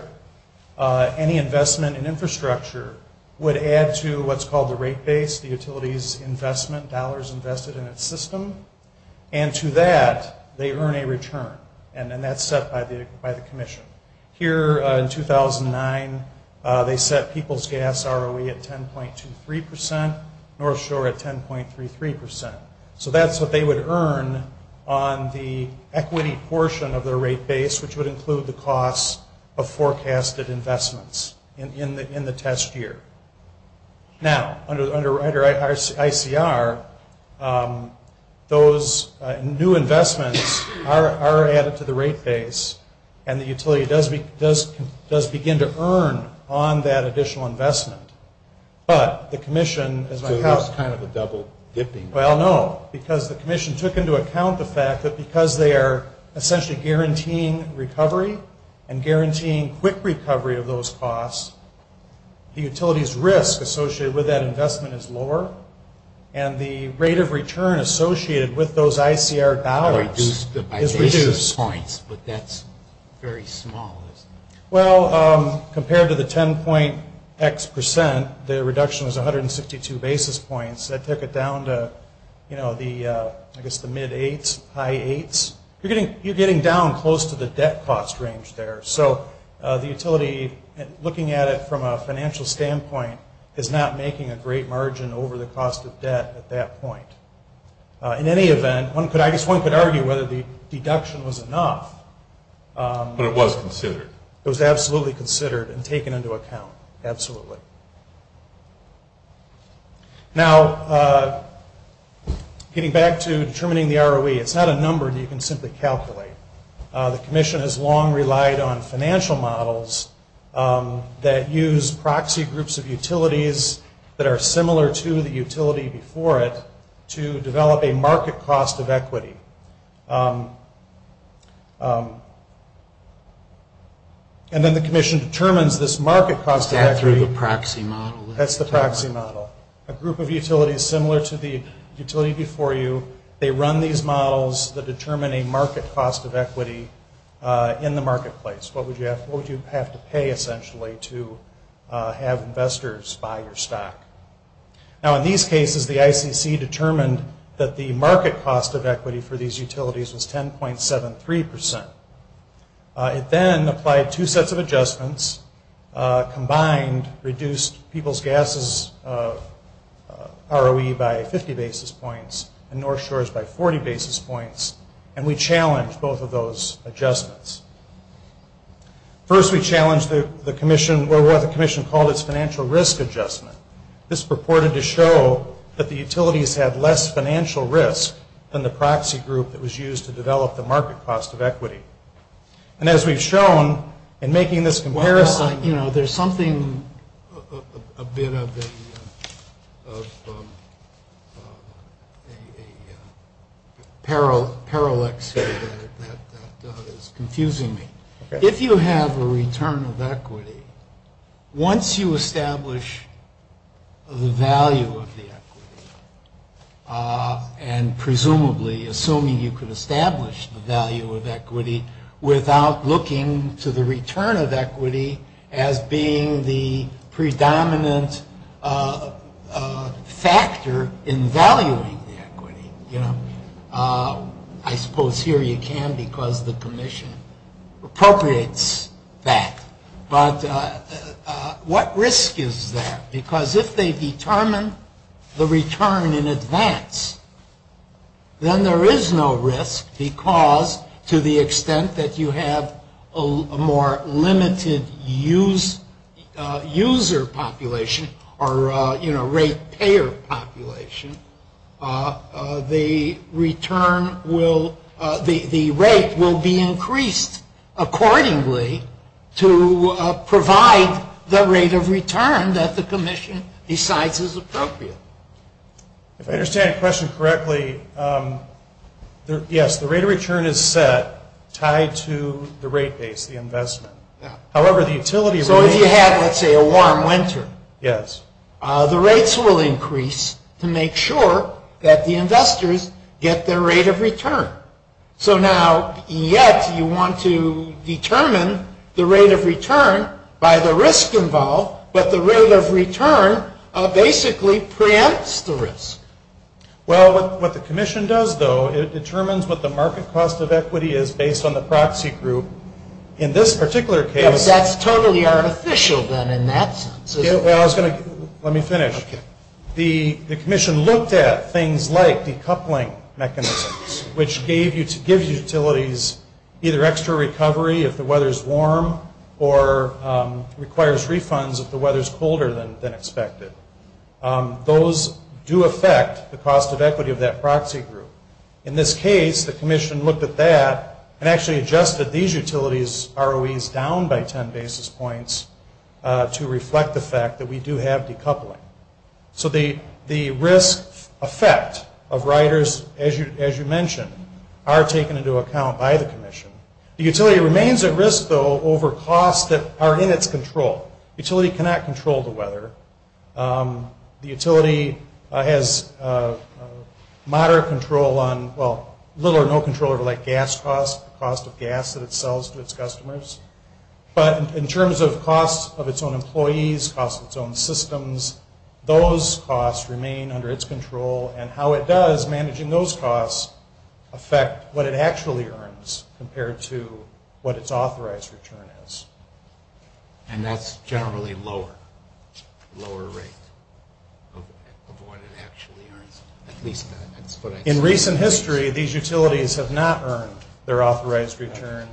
any investment in infrastructure would add to what's called the rate base, the utility's investment, dollars invested in its system, and to that they earn a return, and then that's set by the commission. Here in 2009, they set people's gas ROE at 10.23%, North Shore at 10.33%. So that's what they would earn on the equity portion of their rate base, which would include the cost of forecasted investments in the test year. Now, under Rider ICR, those new investments are added to the rate base, and the utility does begin to earn on that additional investment. So it's kind of a double-dipping. Well, no, because the commission took into account the fact that because they are essentially guaranteeing recovery and guaranteeing quick recovery of those costs, the utility's risk associated with that investment is lower, and the rate of return associated with those ICR dollars is reduced. But that's very small. Well, compared to the 10.x%, the reduction was 162 basis points. I took it down to, I guess, the mid-8s, high-8s. You're getting down close to the debt cost range there. So the utility, looking at it from a financial standpoint, is not making a great margin over the cost of debt at that point. In any event, I guess one could argue whether the deduction was enough. But it was considered. It was absolutely considered and taken into account, absolutely. Now, getting back to determining the ROE, it's not a number you can simply calculate. The commission has long relied on financial models that use proxy groups of utilities that are similar to the utility before it to develop a market cost of equity. And then the commission determines this market cost of equity. That's the proxy model. That's the proxy model. A group of utilities similar to the utility before you, they run these models that determine a market cost of equity in the marketplace. What would you have to pay, essentially, to have investors buy your stock? Now, in these cases, the ICC determined that the market cost of equity for the utility for these utilities was 10.73%. It then applied two sets of adjustments, combined, reduced people's gases ROE by 50 basis points and North Shores by 40 basis points, and we challenged both of those adjustments. First, we challenged the commission, where we have a commission called its financial risk adjustment. This purported to show that the utilities had less financial risk than the proxy group that was used to develop the market cost of equity. And as we've shown in making this comparison... Well, you know, there's something a bit of a parallax here that is confusing me. If you have a return of equity, once you establish the value of the equity, and presumably assuming you could establish the value of equity without looking to the return of equity as being the predominant factor in valuing the equity, you know, I suppose here you can because the commission appropriates that. But what risk is there? Because if they determine the return in advance, then there is no risk because to the extent that you have a more limited user population, or, you know, rate payer population, the return will... the rate will be increased accordingly to provide the rate of return that the commission decides is appropriate. If I understand your question correctly, yes, the rate of return is set tied to the rate base, the investment. So if you have, let's say, a warm winter, the rates will increase to make sure that the investors get their rate of return. So now, yes, you want to determine the rate of return by the risk involved, but the rate of return basically preempts the risk. Well, what the commission does, though, it determines what the market cost of equity is based on the proxy group. In this particular case... But that's totally unofficial, then, in that sense. Well, I was going to... let me finish. The commission looked at things like the coupling mechanism, which gives utilities either extra recovery if the weather is warm or requires refunds if the weather is colder than expected. Those do affect the cost of equity of that proxy group. In this case, the commission looked at that and actually adjusted these utilities ROEs down by 10 basis points to reflect the fact that we do have decoupling. So the risk effect of riders, as you mentioned, are taken into account by the commission. The utility remains at risk, though, over costs that are in its control. The utility cannot control the weather. The utility has moderate control on... well, little or no control over, like, gas costs, the cost of gas that it sells to its customers. But in terms of costs of its own employees, costs of its own systems, those costs remain under its control, and how it does managing those costs affect what it actually earns compared to what its authorized return is. And that's generally lower rate of what it actually earns. In recent history, these utilities have not earned their authorized return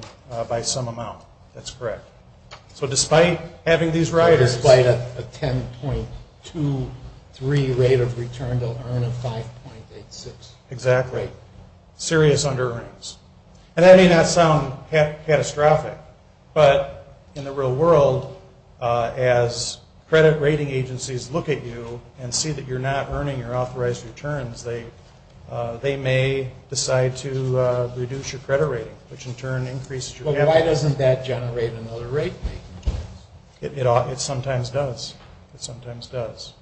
by some amount. That's correct. So despite having these riders... Despite a 10.23 rate of return, they'll earn a 5.86. Exactly. Serious under-earnings. And that may not sound catastrophic, but in the real world, as credit rating agencies look at you and see that you're not earning your authorized returns, they may decide to reduce your credit rate, which in turn increases your... But why doesn't that generate another rate? It sometimes does. It sometimes does.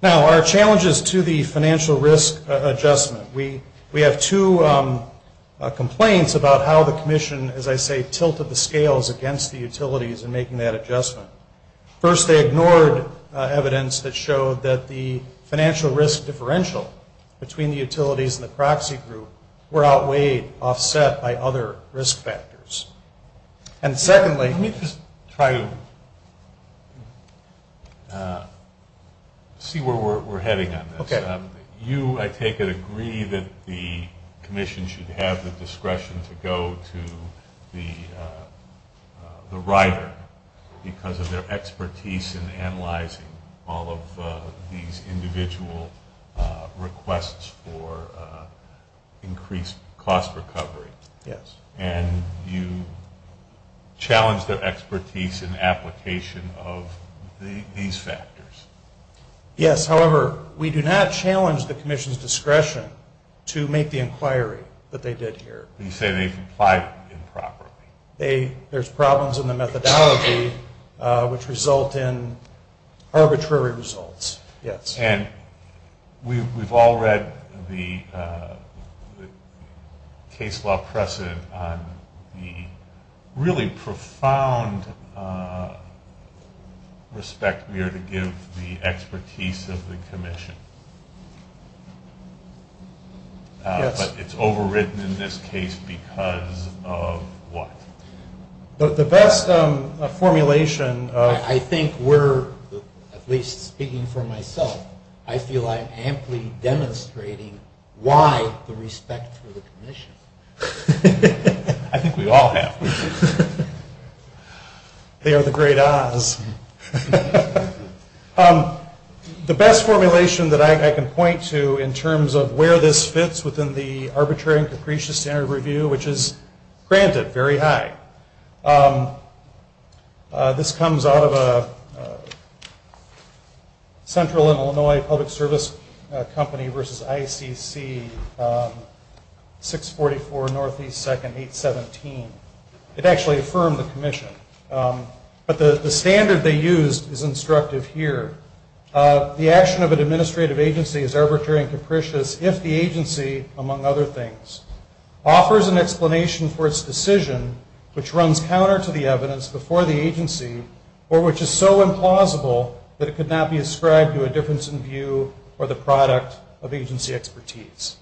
Now, our challenges to the financial risk adjustment. We have two complaints about how the commission, as I say, tilted the scales against the utilities in making that adjustment. First, they ignored evidence that showed that the financial risk differential between the utilities and the proxy group were outweighed, offset by other risk factors. And secondly, let me just try to see where we're heading on this. You, I take it, agree that the commission should have the discretion to go to the rider because of their expertise in analyzing all of these individual requests for increased cost recovery. Yes. And you challenge their expertise in application of these factors. Yes. However, we do not challenge the commission's discretion to make the inquiry that they did here. You say they complied improperly. There's problems in the methodology which result in arbitrary results. Yes. And we've all read the case law precedent on the really profound respect we are to give the expertise of the commission. But it's overwritten in this case because of what? The best formulation of- I think we're, at least speaking for myself, I feel I'm amply demonstrating why the respect for the commission. I think we all have. They are the great odds. The best formulation that I can point to in terms of where this fits within the This comes out of a central Illinois public service company versus ICC 644 Northeast 2nd 817. It actually affirmed the commission. But the standard they used is instructive here. The action of an administrative agency is arbitrary and capricious if the agency, among other things, offers an explanation for its decision which runs counter to the evidence before the agency or which is so implausible that it could not be ascribed to a difference in view or the product of agency expertise.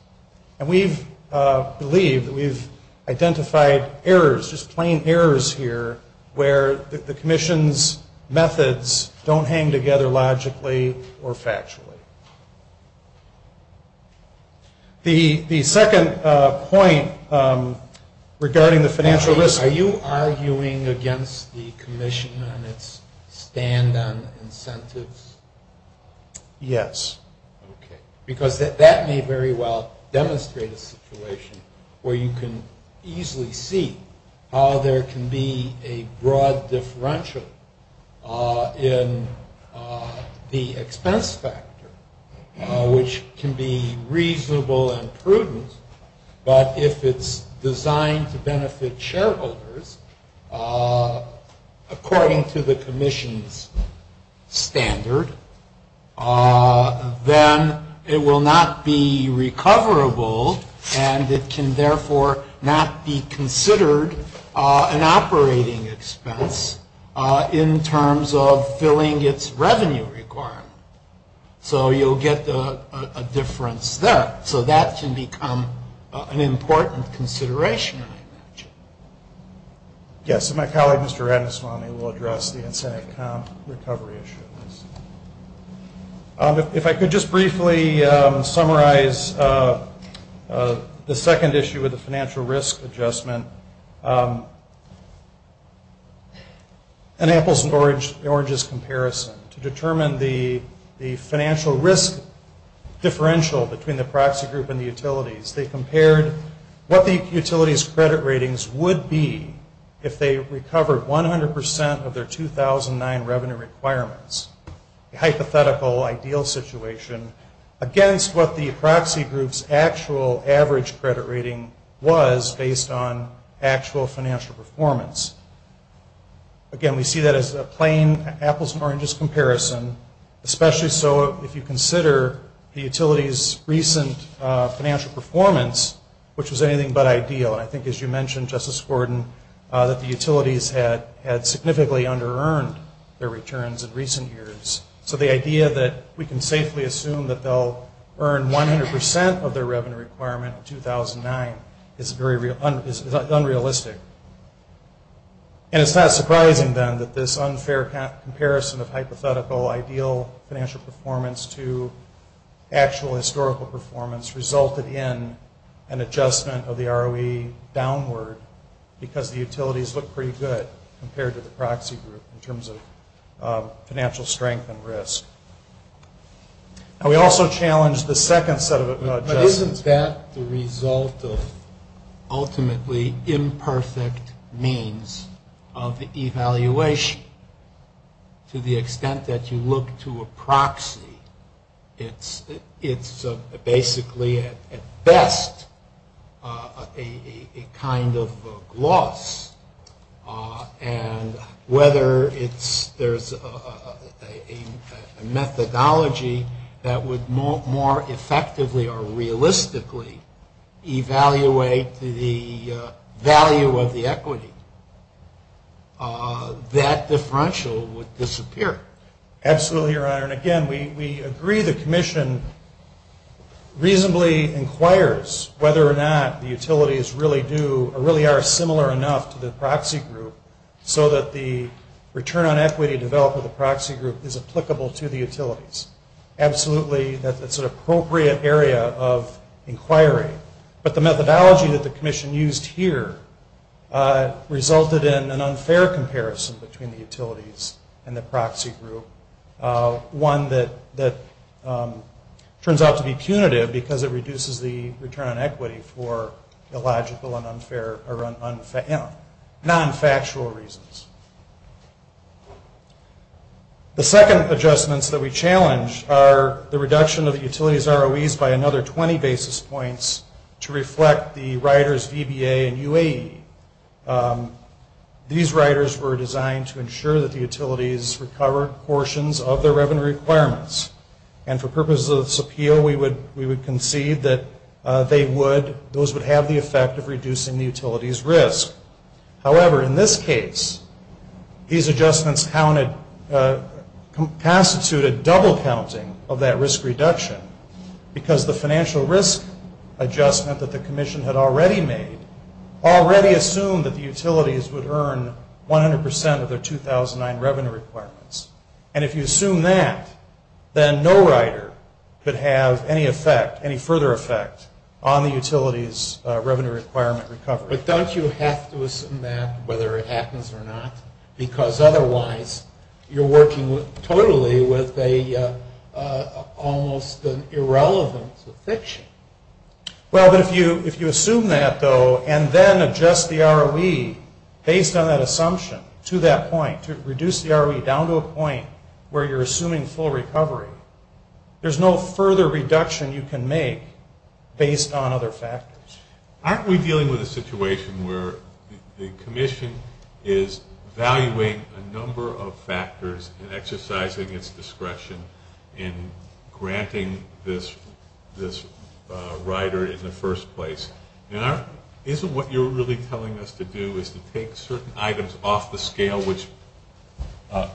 And we believe that we've identified errors, just plain errors here, where the commission's methods don't hang together logically or factually. The second point regarding the financial risk, are you arguing against the commission on its stand on incentives? Yes. Okay. Because that may very well demonstrate a situation where you can easily see how there can be a broad differential in the expense factor, which can be reasonable and prudent. But if it's designed to benefit shareholders, according to the commission's standard, then it will not be recoverable and it can, therefore, not be considered an operating expense in terms of filling its revenue requirement. So you'll get a difference there. So that can become an important consideration. Yes. So my colleague, Mr. Adeswani, will address the incentive account recovery issue. If I could just briefly summarize the second issue with the financial risk adjustment. An apples and oranges comparison. To determine the financial risk differential between the proxy group and the utilities, they compared what the utility's credit ratings would be if they recovered 100 percent of their 2009 revenue requirements. A hypothetical ideal situation against what the proxy group's actual average credit rating was based on actual financial performance. Again, we see that as a plain apples and oranges comparison, especially so if you consider the utility's recent financial performance, which was anything but ideal. I think, as you mentioned, Justice Gordon, that the utilities had significantly under-earned their returns in recent years. So the idea that we can safely assume that they'll earn 100 percent of their revenue requirement in 2009 is unrealistic. And it's not surprising, then, that this unfair comparison of hypothetical ideal financial performance to actual historical performance resulted in an adjustment of the ROE downward because the utilities look pretty good compared to the proxy group in terms of financial strength and risk. And we also challenged the second set of adjustments. Now, isn't that the result of ultimately imperfect means of evaluation? To the extent that you look to a proxy, it's basically, at best, a kind of loss. And whether there's a methodology that would more effectively or realistically evaluate the value of the equity, that differential would disappear. Absolutely, Your Honor. And again, we agree the Commission reasonably inquires whether or not the utilities really do or really are similar enough to the proxy group so that the return on equity developed with the proxy group is applicable to the utilities. Absolutely, that's an appropriate area of inquiry. But the methodology that the Commission used here resulted in an unfair comparison between the utilities and the proxy group, one that turns out to be punitive because it reduces the return on equity for illogical and unfair or non-factual reasons. The second adjustments that we challenged are the reduction of the utilities' ROEs by another 20 basis points to reflect the riders VBA and UAE. These riders were designed to ensure that the utilities recovered portions of their revenue requirements. And for purposes of this appeal, we would concede that those would have the effect of reducing the utilities' risk. However, in this case, these adjustments constituted double counting of that risk reduction because the financial risk adjustment that the Commission had already made already assumed that the utilities would earn 100% of their 2009 revenue requirements. And if you assume that, then no rider could have any effect, any further effect on the utilities' revenue requirement recovery. But don't you have to assume that, whether it happens or not, because otherwise you're working totally with almost an irrelevance of fiction. Well, if you assume that, though, and then adjust the ROE based on that assumption to that point, to reduce the ROE down to a point where you're assuming full recovery, there's no further reduction you can make based on other factors. Aren't we dealing with a situation where the Commission is valuing a number of factors and exercising its discretion in granting this rider in the first place? Isn't what you're really telling us to do is to take certain items off the scale, which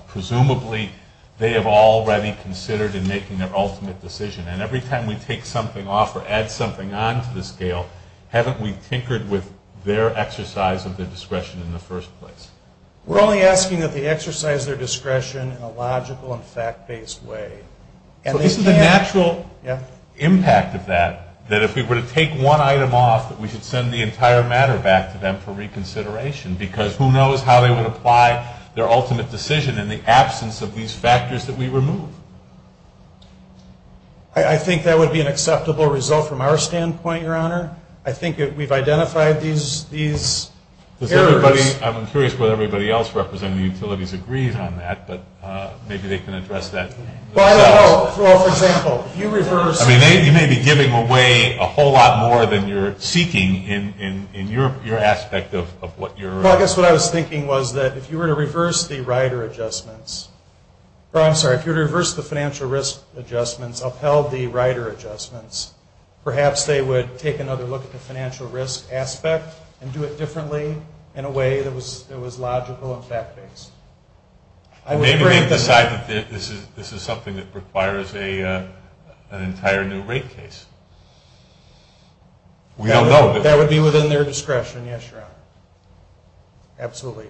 presumably they have already considered in making their ultimate decision? And every time we take something off or add something on to the scale, haven't we tinkered with their exercise of their discretion in the first place? We're only asking that they exercise their discretion in a logical and fact-based way. This is an actual impact of that, that if we were to take one item off, that we should send the entire matter back to them for reconsideration, because who knows how they would apply their ultimate decision in the absence of these factors that we removed. I think that would be an acceptable result from our standpoint, Your Honor. I think we've identified these errors. I'm curious whether everybody else representing utilities agreed on that, but maybe they can address that. I don't know. Well, for example, if you reverse... You may be giving away a whole lot more than you're seeking in your aspect of what you're... I guess what I was thinking was that if you were to reverse the rider adjustments, I'm sorry, if you reverse the financial risk adjustments, upheld the rider adjustments, perhaps they would take another look at the financial risk aspect and do it differently in a way that was logical and fact-based. Maybe the fact that this is something that requires an entire new rate case. We don't know. That would be within their discretion, yes, Your Honor. Absolutely.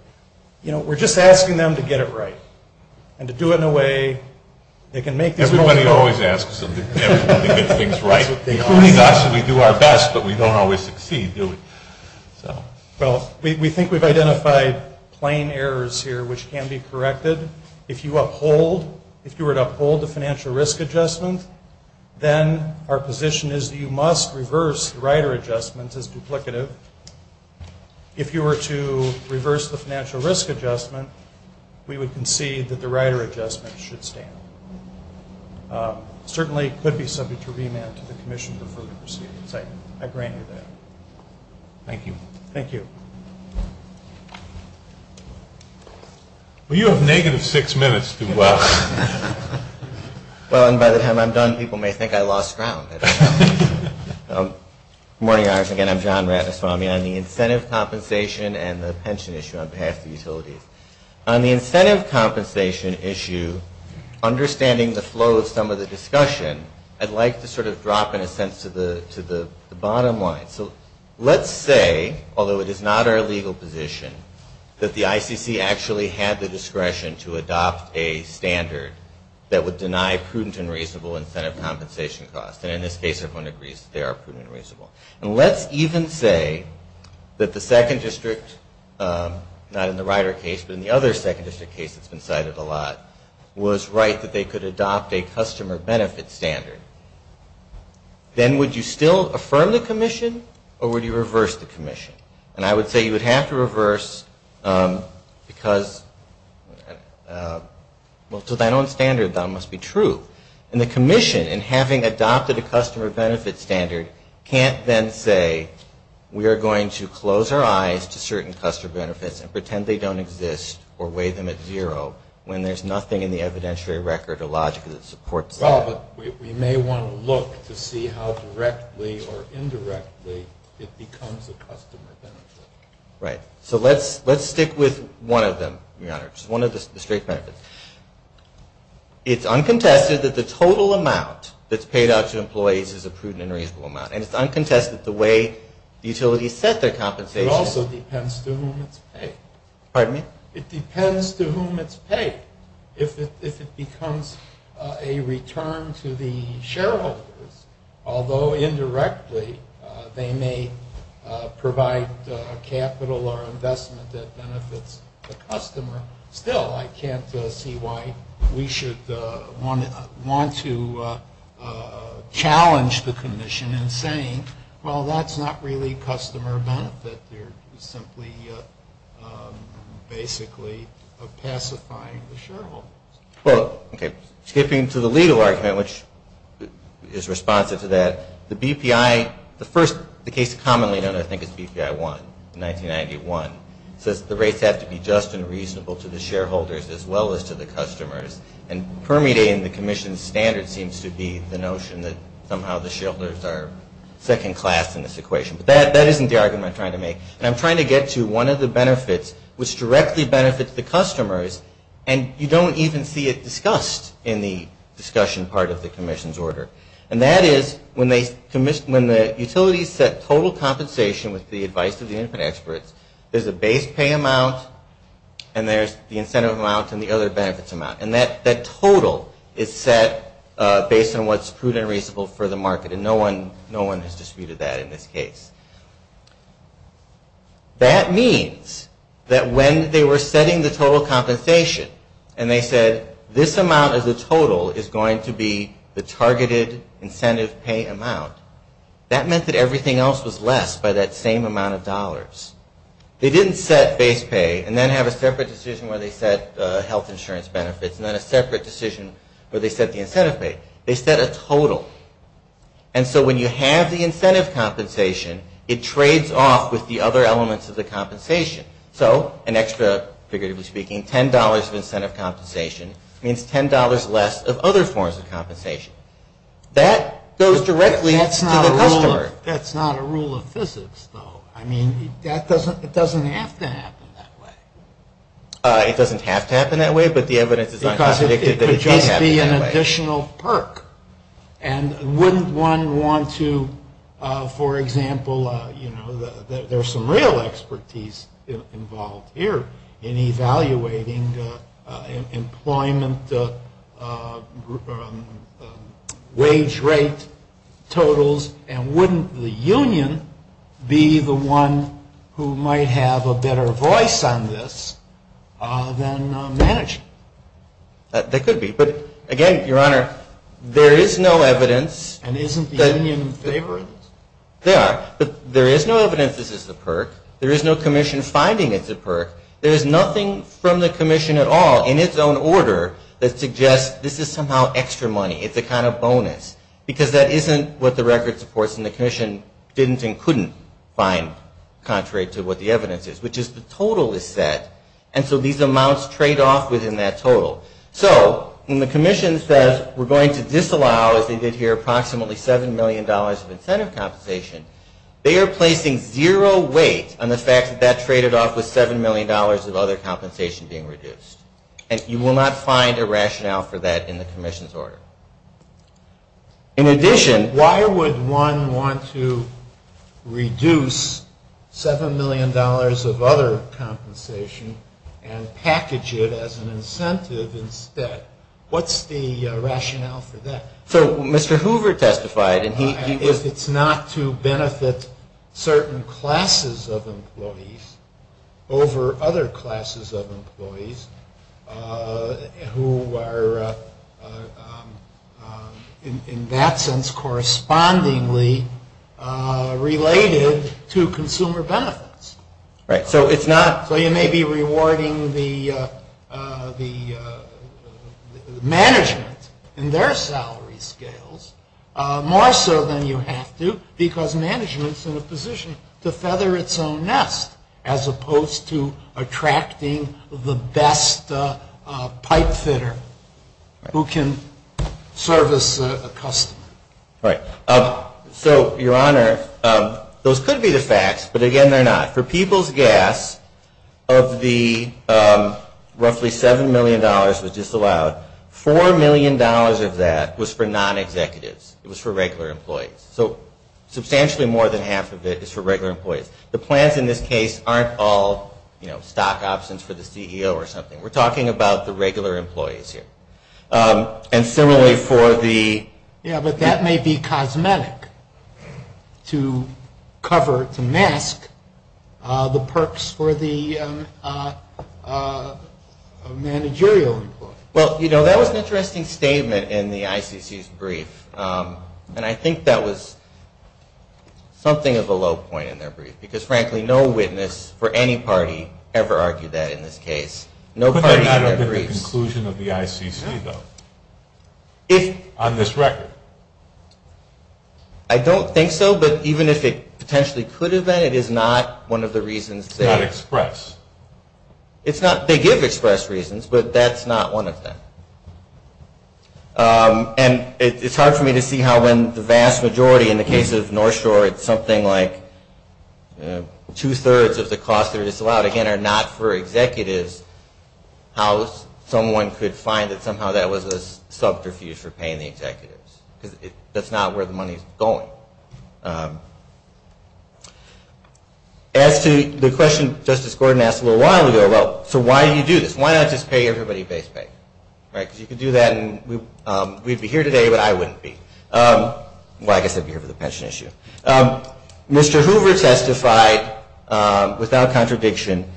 You know, we're just asking them to get it right and to do it in a way that can make... Everybody always asks everybody to get things right. We do our best, but we don't always succeed. Well, we think we've identified plain errors here which can be corrected. If you were to uphold the financial risk adjustment, then our position is that you must reverse the rider adjustment as duplicative. If you were to reverse the financial risk adjustment, we would concede that the rider adjustment should stand. Certainly, it could be subject to remand to the Commission for Procedures. I grant you that. Thank you. Thank you. Well, you have negative six minutes to go. By the time I'm done, people may think I lost ground. Good morning, Your Honor. Again, I'm John Ratnaswamy on the incentive compensation and the pension issue on behalf of the utilities. On the incentive compensation issue, understanding the flow of some of the discussion, I'd like to sort of drop in a sense to the bottom line. So let's say, although it is not our legal position, that the ICC actually had the discretion to adopt a standard that would deny prudent and reasonable incentive compensation costs. And in this case, everyone agrees they are prudent and reasonable. And let's even say that the second district, not in the rider case, but in the other second district case that's been cited a lot, was right that they could adopt a customer benefit standard. Then would you still affirm the Commission or would you reverse the Commission? And I would say you would have to reverse because, well, so that own standard must be true. And the Commission, in having adopted a customer benefit standard, can't then say we are going to close our eyes to certain customer benefits and pretend they don't exist or weigh them at zero when there's nothing in the evidentiary record or logic that supports that. Well, we may want to look to see how directly or indirectly it becomes a customer benefit. Right. So let's stick with one of them, Your Honor, one of the district benefits. It's uncontested that the total amount that's paid out to employees is a prudent or reasonable amount. And it's uncontested the way utilities set their compensation. It also depends to whom it's paid. Pardon me? It depends to whom it's paid. If it becomes a return to the shareholder, although indirectly, they may provide capital or investment that benefits the customer. Still, I can't see why we should want to challenge the Commission in saying, well, that's not really customer benefit. They're simply basically pacifying the shareholder. Well, okay. Skipping to the legal argument, which is responsive to that, the BPI, the first case commonly known, I think, is BPI 1 in 1991. The rates have to be just and reasonable to the shareholders as well as to the customers. And permutating the Commission's standards seems to be the notion that somehow the shareholders are second class in this equation. But that isn't the argument I'm trying to make. I'm trying to get to one of the benefits which directly benefits the customers and you don't even see it discussed in the discussion part of the Commission's order. And that is when the Utilities set total compensation with the advice of the infant expert, there's a base pay amount and there's the incentive amount and the other benefits amount. And that total is set based on what's prudent and reasonable for the market and no one has disputed that in this case. That means that when they were setting the total compensation and they said, this amount of the total is going to be the targeted incentive pay amount, that meant that everything else was less by that same amount of dollars. They didn't set base pay and then have a separate decision where they set health insurance benefits and then a separate decision where they set the incentive pay. They set a total. And so when you have the incentive compensation, it trades off with the other elements of the compensation. So an extra, figuratively speaking, $10 of incentive compensation means $10 less of other forms of compensation. That goes directly to the customer. That's not a rule of physics though. I mean, it doesn't have to happen that way. It doesn't have to happen that way, but the evidence is that it can happen that way. Because it could just be an additional perk. And wouldn't one want to, for example, you know, there's some real expertise involved here in evaluating employment wage rate totals, and wouldn't the union be the one who might have a better voice on this than management? They could be. But again, Your Honor, there is no evidence. And isn't the union in favor of this? They are. But there is no evidence that this is a perk. There is no commission finding it's a perk. There is nothing from the commission at all in its own order that suggests this is somehow extra money. It's a kind of bonus. Because that isn't what the record supports and the commission didn't and couldn't find contrary to what the evidence is, which is the total is set. And so these amounts trade off within that total. So when the commission says we're going to disallow, as they did here, approximately $7 million of incentive compensation, they are placing zero weight on the fact that that traded off with $7 million of other compensation being reduced. And you will not find a rationale for that in the commission's order. In addition, why would one want to reduce $7 million of other compensation and package it as an incentive instead? What's the rationale for that? So Mr. Hoover testified. If it's not to benefit certain classes of employees over other classes of employees who are in that sense correspondingly related to consumer benefits. So you may be rewarding the management in their salary scales more so than you have to because management is in a position to feather its own nest as opposed to attracting the best pipe fitter who can service a customer. All right. So, Your Honor, those could be the facts, but again they're not. For People's Gas, of the roughly $7 million that was disallowed, $4 million of that was for non-executives. It was for regular employees. So substantially more than half of it is for regular employees. The plants in this case aren't all stock options for the CEO or something. We're talking about the regular employees here. And similarly for the... Yeah, but that may be cosmetic to cover, to mask the perks for the managerial employees. Well, you know, that was an interesting statement in the ICC's brief, and I think that was something of a low point in their brief because frankly no witness for any party ever argued that in this case. But that's not the conclusion of the ICC, though, on this record. I don't think so, but even if it potentially could have been, it is not one of the reasons that... It's not express. It's not. They give express reasons, but that's not one of them. And it's hard for me to see how when the vast majority, in the case of North Shore it's something like two-thirds of the cost that was allowed, again, are not for executives, how someone could find that somehow that was a subterfuge for paying the executives. Because that's not where the money is going. As to the question Justice Gordon asked a little while ago, well, so why do you do this? Why not just pay everybody face-to-face? Right, because you could do that and we'd be here today, but I wouldn't be. Well, I guess I'd be here for the pension issue. Mr. Hoover testified, without contradiction,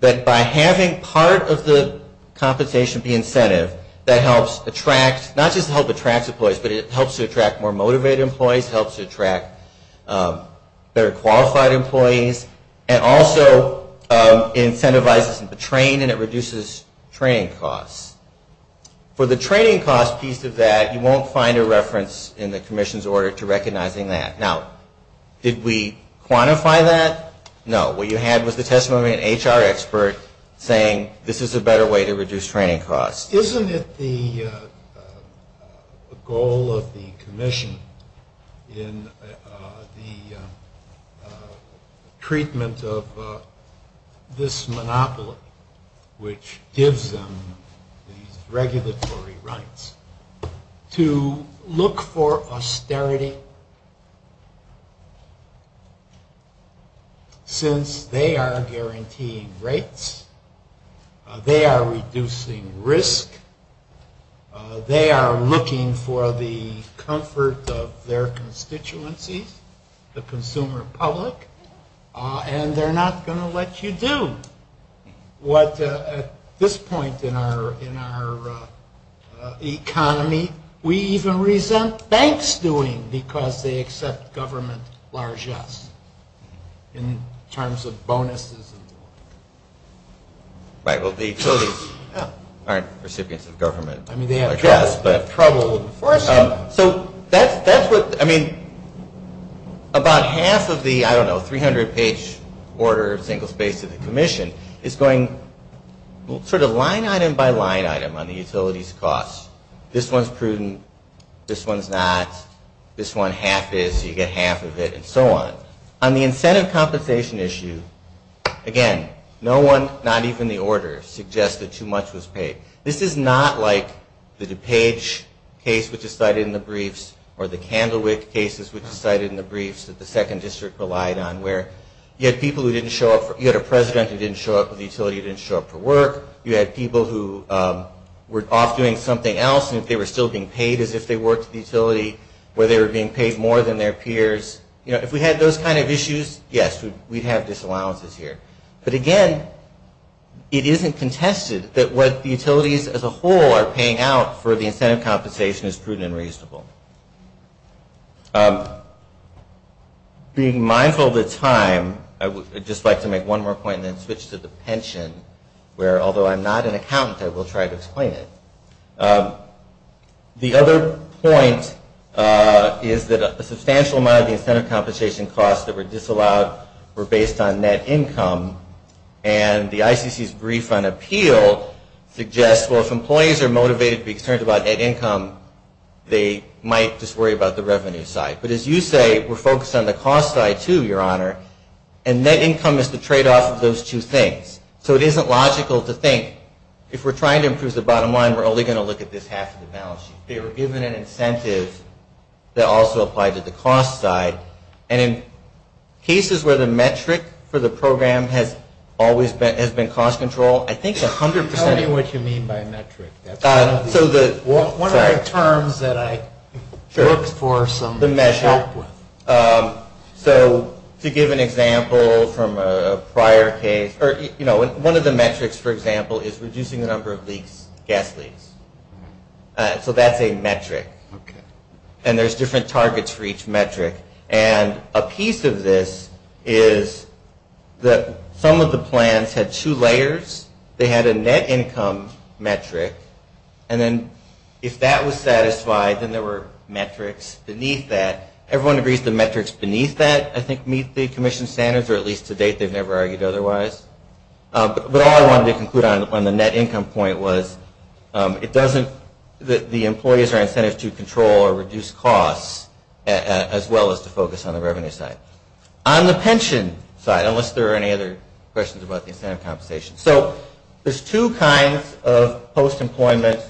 that by having part of the compensation be incentive, that helps attract, not just helps attract employees, but it helps attract more motivated employees, helps attract better qualified employees, and also incentivizes the training and it reduces training costs. For the training cost piece of that, you won't find a reference in the commission's order to recognizing that. Now, did we quantify that? No. What you had was the testimony of an HR expert saying this is a better way to reduce training costs. Isn't it the goal of the commission in the treatment of this monopoly, which gives them these regulatory rights, to look for austerity since they are guaranteeing rates, they are reducing risk, they are looking for the comfort of their constituencies, the consumer public, and they're not going to let you do what, at this point in our economy, we even resent banks doing because they accept government largesse in terms of bonuses. Right. Well, the utilities aren't recipients of government largesse. I mean, they have trouble enforcing it. So, that's what, I mean, about half of the, I don't know, 300-page order of single space in the commission is going sort of line item by line item on the utility's costs. This one's prudent, this one's not, this one half is, you get half of it, and so on. On the incentive compensation issue, again, no one, not even the order, suggests that too much was paid. This is not like the DuPage case, which is cited in the briefs, or the Candlewick case, which is cited in the briefs that the second district relied on, where you had people who didn't show up, you had a president who didn't show up for the utility, who didn't show up for work. You had people who were off doing something else, and if they were still being paid as if they worked at the utility, where they were being paid more than their peers. You know, if we had those kind of issues, yes, we'd have disallowances here. But, again, it isn't contested that what utilities as a whole are paying out for the incentive compensation is prudent and reasonable. Being mindful of the time, I would just like to make one more point and then switch to the pension, where, although I'm not an accountant, I will try to explain it. The other point is that a substantial amount of the incentive compensation costs that were disallowed were based on net income, and the ICC's brief on appeals suggests, well, if employees are motivated to be concerned about net income, they might just worry about the revenue side. But, as you say, we're focused on the cost side, too, Your Honor, and net income is the tradeoff of those two things. So, it isn't logical to think, if we're trying to improve the bottom line, we're only going to look at this half of the balance sheet. They were given an incentive that also applied to the cost side, and in cases where the metric for the program has always been cost control, I think 100% You're telling me what you mean by metric. So, the One of the terms that I worked for some The measure. So, to give an example from a prior case, you know, one of the metrics, for example, is reducing the number of gas leaks. So, that's a metric, and there's different targets for each metric, and a piece of this is that some of the plans had two layers. They had a net income metric, and then, if that was satisfied, then there were metrics beneath that. Everyone agrees the metrics beneath that, I think, meet the commission standards, or at least to date, they've never argued otherwise. But all I wanted to conclude on the net income point was, it doesn't, the employees are incented to control or reduce costs, as well as to focus on the revenue side. On the pension side, unless there are any other questions about the incentive compensation. So, there's two kinds of post-employment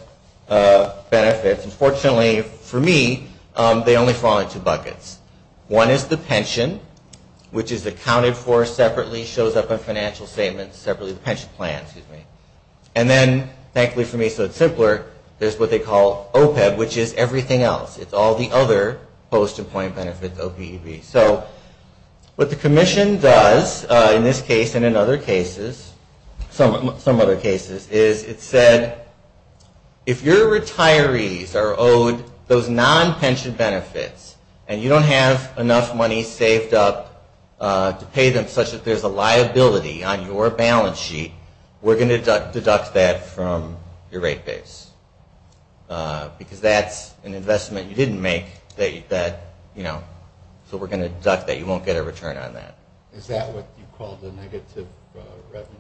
benefits. Unfortunately, for me, they only fall into two buckets. One is the pension, which is accounted for separately, shows up in financial statements separately, the pension plan, excuse me. And then, thankfully for me, so it's simpler, there's what they call OPEB, which is everything else. It's all the other post-employment benefits, OPEB. So, what the commission does, in this case and in other cases, some other cases, is it said, if your retirees are owed those non-pension benefits, and you don't have enough money saved up to pay them, such that there's a liability on your balance sheet, we're going to deduct that from your rate base. Because that's an investment you didn't make, that you said, you know, so we're going to deduct that, you won't get a return on that. Is that what you call the negative revenue?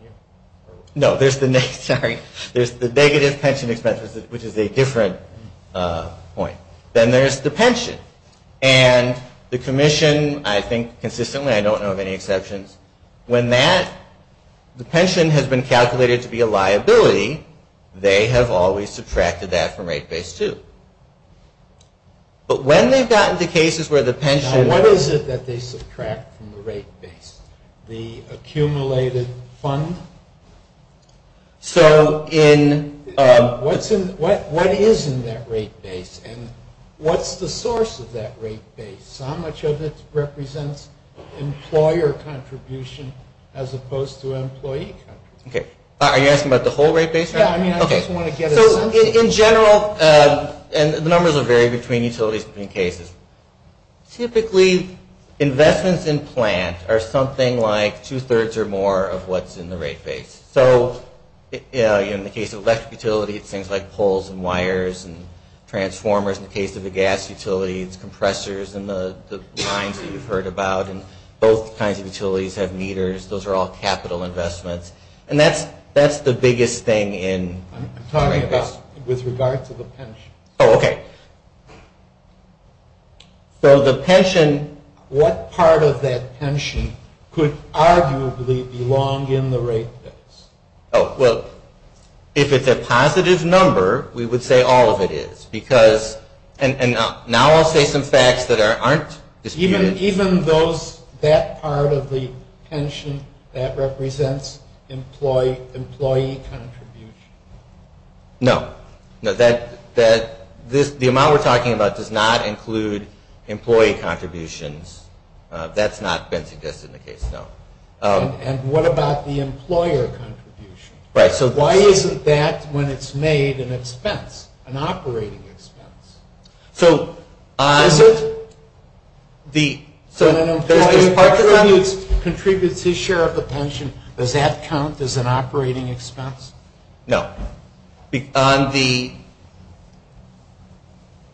No, there's the negative, sorry. There's the negative pension expenses, which is a different point. Then there's the pension. And the commission, I think consistently, I don't know of any exceptions, when that, the pension has been calculated to be a liability, they have always subtracted that from rate base two. But when they've gotten to cases where the pension... The accumulated fund? So in... What is in that rate base? And what's the source of that rate base? How much of it represents employer contribution, as opposed to employee contribution? Okay. Are you asking about the whole rate base? Yeah, I mean, I just want to get... Okay, so in general, and the numbers will vary between utilities and cases, typically investments in plants are something like two-thirds or more of what's in the rate base. So, you know, in the case of electric utilities, things like poles and wires and transformers. In the case of the gas utilities, compressors, and the lines that you've heard about. Both kinds of utilities have meters. Those are all capital investments. And that's the biggest thing in... I'm talking about with regards to the pension. Oh, okay. So the pension, what part of that pension could arguably belong in the rate base? Oh, well, if it's a positive number, we would say all of it is, because... And now I'll say some facts that aren't... Even those... That part of the pension, that represents employee contribution? No. The amount we're talking about does not include employee contributions. That's not been suggested in the case, no. And what about the employer contribution? Right, so... Why isn't that when it's made an expense, an operating expense? So... I'm just... So when an employee contributes his share of the pension, does that count as an operating expense? No. On the...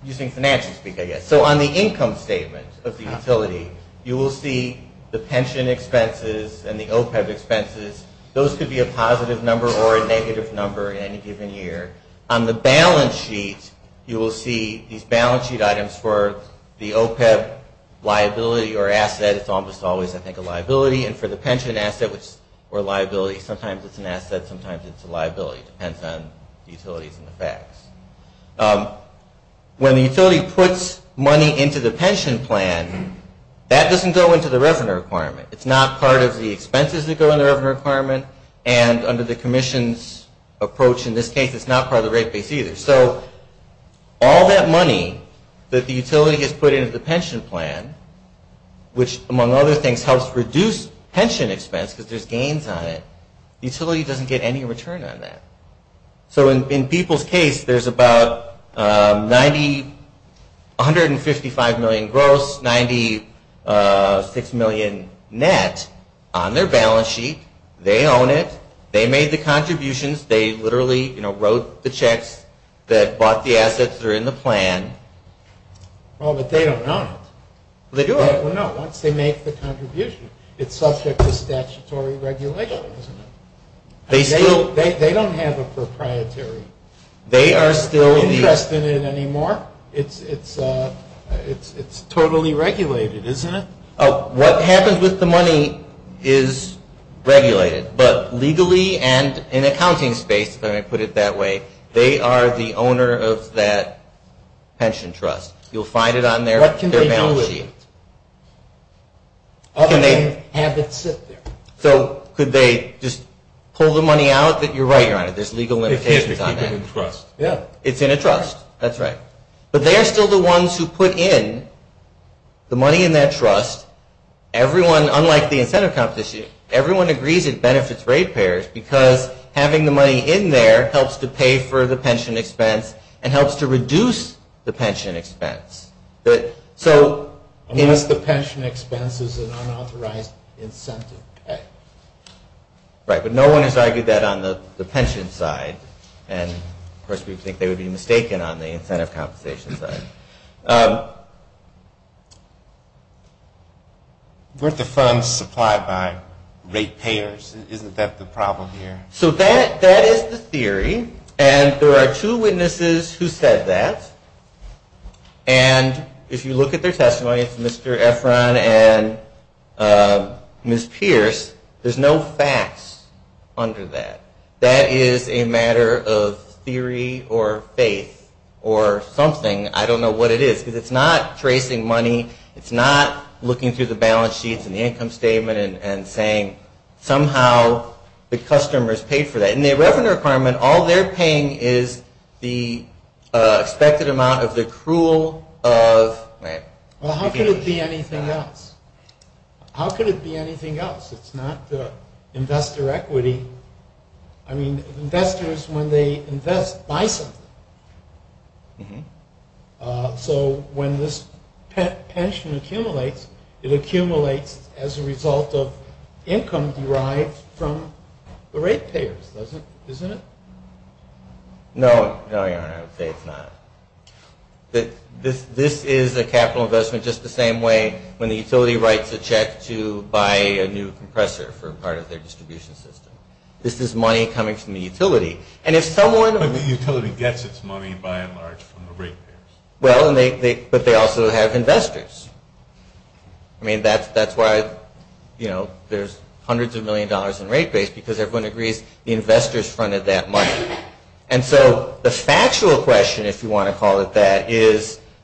Using financials, we can go, yes. So on the income statement of the utility, you will see the pension expenses and the OPEB expenses. Those could be a positive number or a negative number in any given year. On the balance sheet, you will see these balance sheet items for the OPEB liability or asset. It's almost always, I think, a liability. And for the pension asset, it's a liability. Sometimes it's an asset. Sometimes it's a liability. Depends on utilities and the facts. When the utility puts money into the pension plan, that doesn't go into the revenue requirement. It's not part of the expenses that go into the revenue requirement. And under the commission's approach in this case, it's not part of the rate base either. So... All that money that the utility has put into the pension plan, which among other things, helps reduce pension expense because there's gains on it. Utility doesn't get any return on that. So in people's case, there's about 90, 155 million gross, 96 million net on their balance sheet. They own it. They made the contributions. They literally wrote the checks that bought the assets that are in the plan. Oh, but they don't know. They do know. They make the contributions. It's subject to statutory regulation, isn't it? They still... They don't have a proprietary... They are still... ...investment in it anymore. It's totally regulated, isn't it? What happens with the money is regulated. But legally and in accounting space, let me put it that way, they are the owner of that pension trust. You'll find it on their balance sheet. What can they do with it? Can they have it sit there? So could they just pull the money out? You're right, Ryan. There's legal limitations on that. It's in a trust. That's right. But they are still the ones who put in the money in that trust. Everyone, unlike the incentive comp this year, everyone agrees it benefits rate payers because having the money in there helps to pay for the pension expense and helps to reduce the pension expense. So... Unless the pension expense is an unauthorized incentive. Right. But no one has argued that on the pension side. Of course, we think they would be mistaken on the incentive compensation side. Weren't the funds supplied by rate payers? Isn't that the problem here? So that is the theory. And there are two witnesses who said that. And if you look at their testimony, Mr. Efron and Ms. Pierce, there's no facts under that. That is a matter of theory or faith or something. I don't know what it is. Because it's not tracing money. It's not looking through the balance sheets and income statement and saying, somehow the customer has paid for that. And the revenue requirement, all they're paying is the expected amount of the accrual of... Right. Well, how could it be anything else? How could it be anything else? It's not the investor equity. I mean, investors, when they invest, buy something. So when this pension accumulates, it accumulates as a result of income derived from the rate payers, isn't it? No, Your Honor, it's not. This is a capital investment just the same way when the utility writes a check to buy a new compressor for part of their distribution system. This is money coming from the utility. And if someone... But the utility gets its money, by and large, from the rate payers. Well, but they also have investors. I mean, that's why, you know, there's hundreds of millions of dollars in rate payers because everyone agrees the investor's funded that money. And so the factual question, if you want to call it that,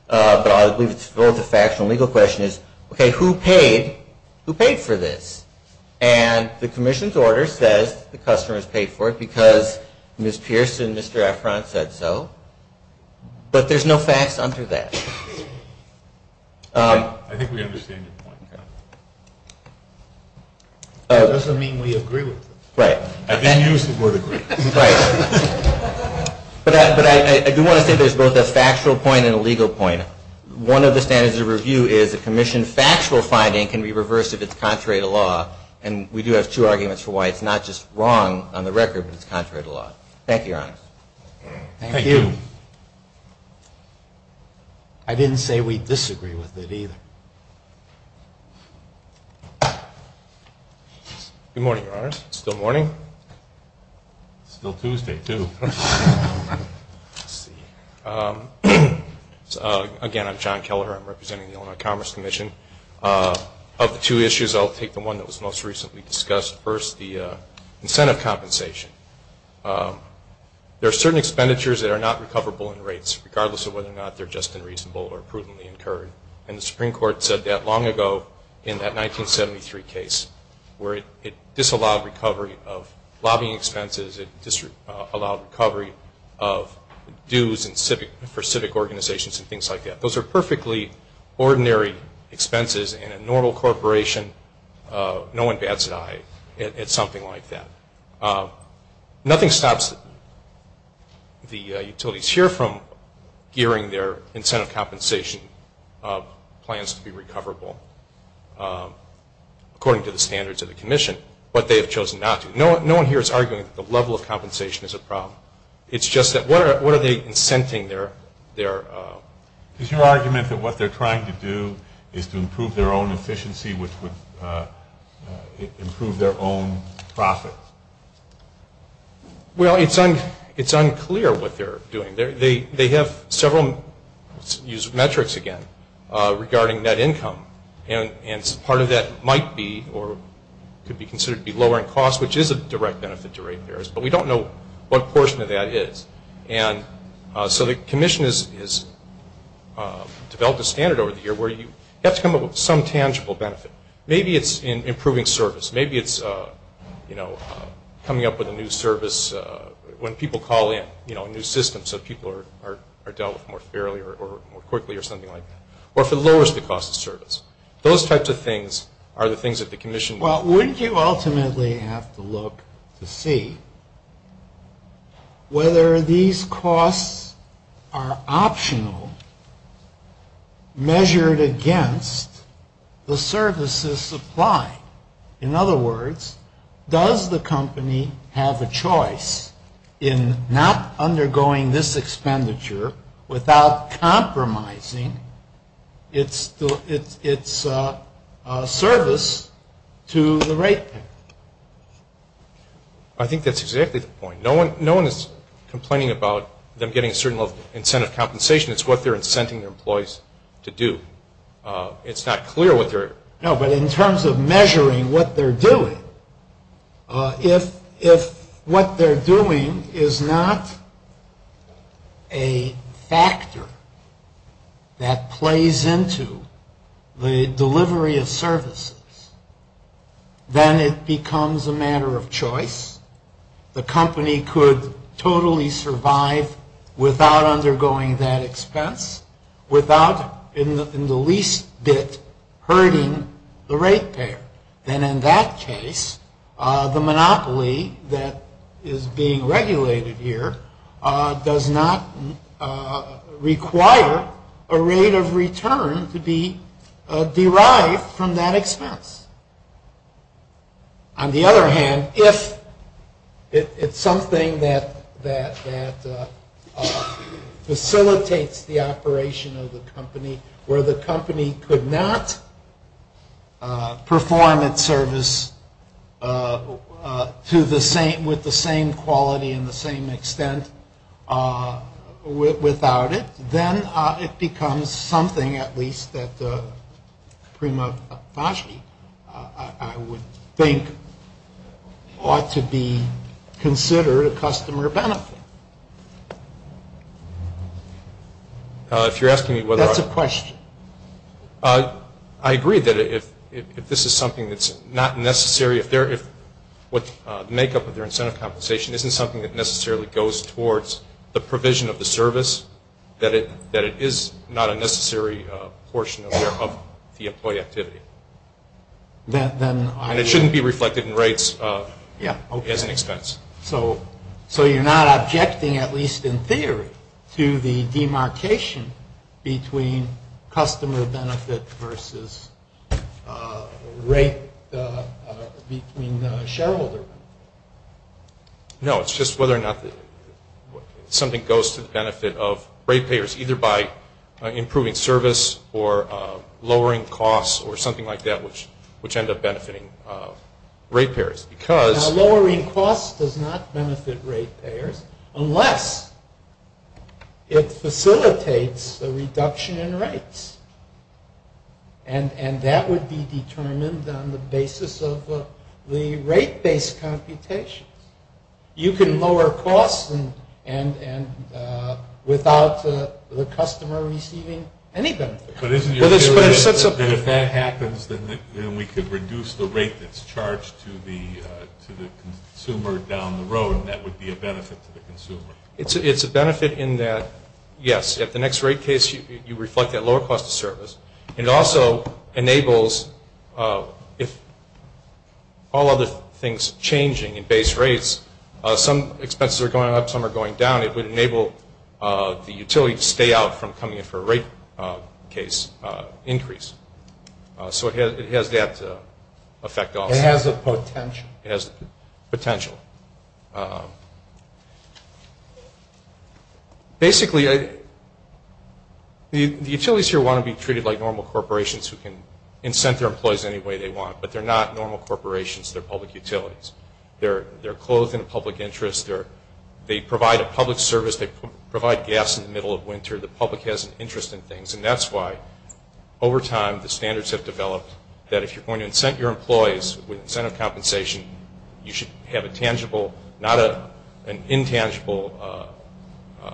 but I'll go with the factual and legal question, is, okay, who paid for this? And the commission's order says the customer has paid for it because Ms. Pierce and Mr. Efron said so. But there's no facts under that. I think we understand your point. It doesn't mean we agree with it. Right. I've been used to more than that. Right. But I do want to say there's both a factual point and a legal point. One of the standards of review is a commission's factual finding can be reversed if it's contrary to law. And we do have two arguments for why it's not just wrong on the record, but it's contrary to law. Thank you, Your Honor. Thank you. I didn't say we'd disagree with it either. Good morning, Your Honor. It's still morning? It's still Tuesday, too. Again, I'm John Keller. I'm representing the Illinois Commerce Commission. Of the two issues, I'll take the one that was most recently discussed. First, the incentive compensation. There are certain expenditures that are not recoverable in rates, regardless of whether or not they're just unreasonable or prudently incurred. And the Supreme Court said that long ago in that 1973 case, where it disallowed recovery of lobbying expenses, it disallowed recovery of dues for civic organizations and things like that. Those are perfectly ordinary expenses in a normal corporation. No one bats an eye at something like that. Nothing stops the utilities here from gearing their incentive compensation plans to be recoverable according to the standards of the commission, but they have chosen not to. No one here is arguing that the level of compensation is a problem. It's just that what are they incenting their... Is your argument that what they're trying to do is to improve their own profits? Well, it's unclear what they're doing. They have several metrics, again, regarding net income, and part of that might be or could be considered to be lowering costs, which is a direct benefit to rate payers, but we don't know what portion of that is. And so the commission has developed a standard over the years where you get some tangible benefit. Maybe it's in improving service. Maybe it's coming up with a new service when people call in, a new system so people are dealt with more fairly or more quickly or something like that. Or if it lowers the cost of service. Those types of things are the things that the commission... Well, wouldn't you ultimately have to look to see whether these costs are In other words, does the company have a choice in not undergoing this expenditure without compromising its service to the rate payer? I think that's exactly the point. No one is complaining about them getting a certain level of incentive compensation. It's what they're incenting their employees to do. It's not clear what they're... No, but in terms of measuring what they're doing, if what they're doing is not a factor that plays into the delivery of services, then it becomes a matter of choice. The company could totally survive without undergoing that expense, without in the least bit hurting the rate payer. And in that case, the monopoly that is being regulated here does not require a rate of return to be derived from that expense. On the other hand, if it's something that facilitates the operation of the company where the company could not perform its service with the same quality and the same expense without it, then it becomes something, at least, that Prima Vachie, I would think, ought to be considered a customer benefit. If you're asking me whether I... That's a question. I agree that if this is something that's not necessary, if what's the makeup of their incentive compensation isn't something that that it is not a necessary portion of the employee activity. And it shouldn't be reflected in rates as an expense. So you're not objecting, at least in theory, to the demarcation between customer benefit versus rate between the shareholder? No, it's just whether or not something goes to the benefit of rate payers, either by improving service or lowering costs or something like that, which end up benefiting rate payers because... Lowering costs does not benefit rate payers unless it facilitates a reduction in rates. And that would be determined on the basis of the rate-based computation. You can lower costs without the customer receiving any benefit. But isn't it that if that happens, then we could reduce the rate that's charged to the consumer down the road, and that would be a benefit to the consumer? It's a benefit in that, yes, at the next rate case, you reflect that lower cost of service. It also enables, if all other things are changing in base rates, some expenses are going up, some are going down. It would enable the utility to stay out from coming in for a rate case increase. So it has that effect. It has a potential. It has potential. Basically, the utilities here want to be treated like normal corporations who can incent their employees any way they want, but they're not normal corporations. They're public utilities. They're closed in the public interest. They provide a public service. They provide gas in the middle of winter. The public has an interest in things, and that's why over time the standards have developed you should have a tangible incentive. You should have a tangible, not an intangible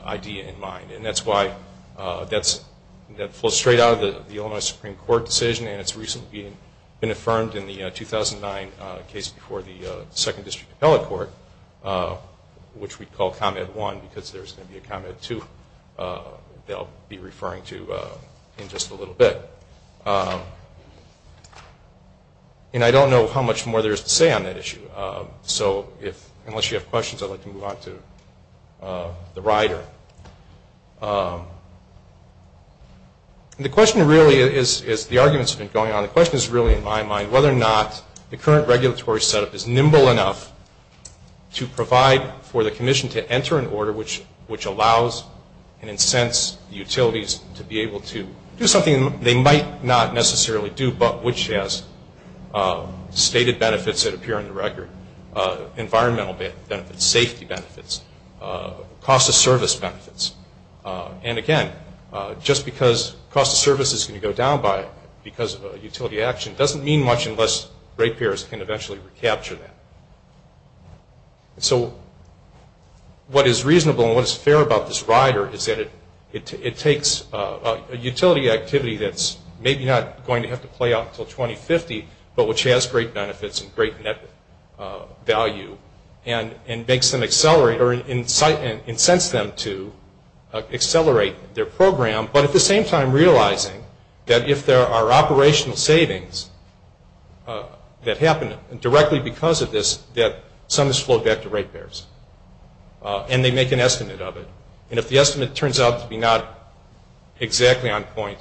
idea in mind, and that's why that flows straight out of the Illinois Supreme Court decision, and it's recently been affirmed in the 2009 case before the second district appellate court, which we call comment one because there's going to be a comment two that I'll be referring to in just a little bit. And I don't know how much more there is to say on that issue, so unless you have questions I'd like to move on to the rider. And the question really is, the argument's been going on, the question is really in my mind whether or not the current regulatory setup is nimble enough to provide for the commission to enter an order which allows and incents utilities to be able to do something they might not necessarily do, but which has stated benefits that appear on the record, environmental benefits, safety benefits, cost of service benefits. And again, just because cost of service is going to go down because of utility action doesn't mean much unless rate payers can eventually recapture that. So what is reasonable and what is fair about this rider is that it takes a utility activity that's maybe not going to have to play out until 2050, but which has great benefits and great net value and makes them accelerate or incents them to accelerate their program, but at the same time realizing that if there are operational savings that happen directly because of this, that some of this flow back to rate payers. And they make an estimate of it. And if the estimate turns out to be not exactly on point,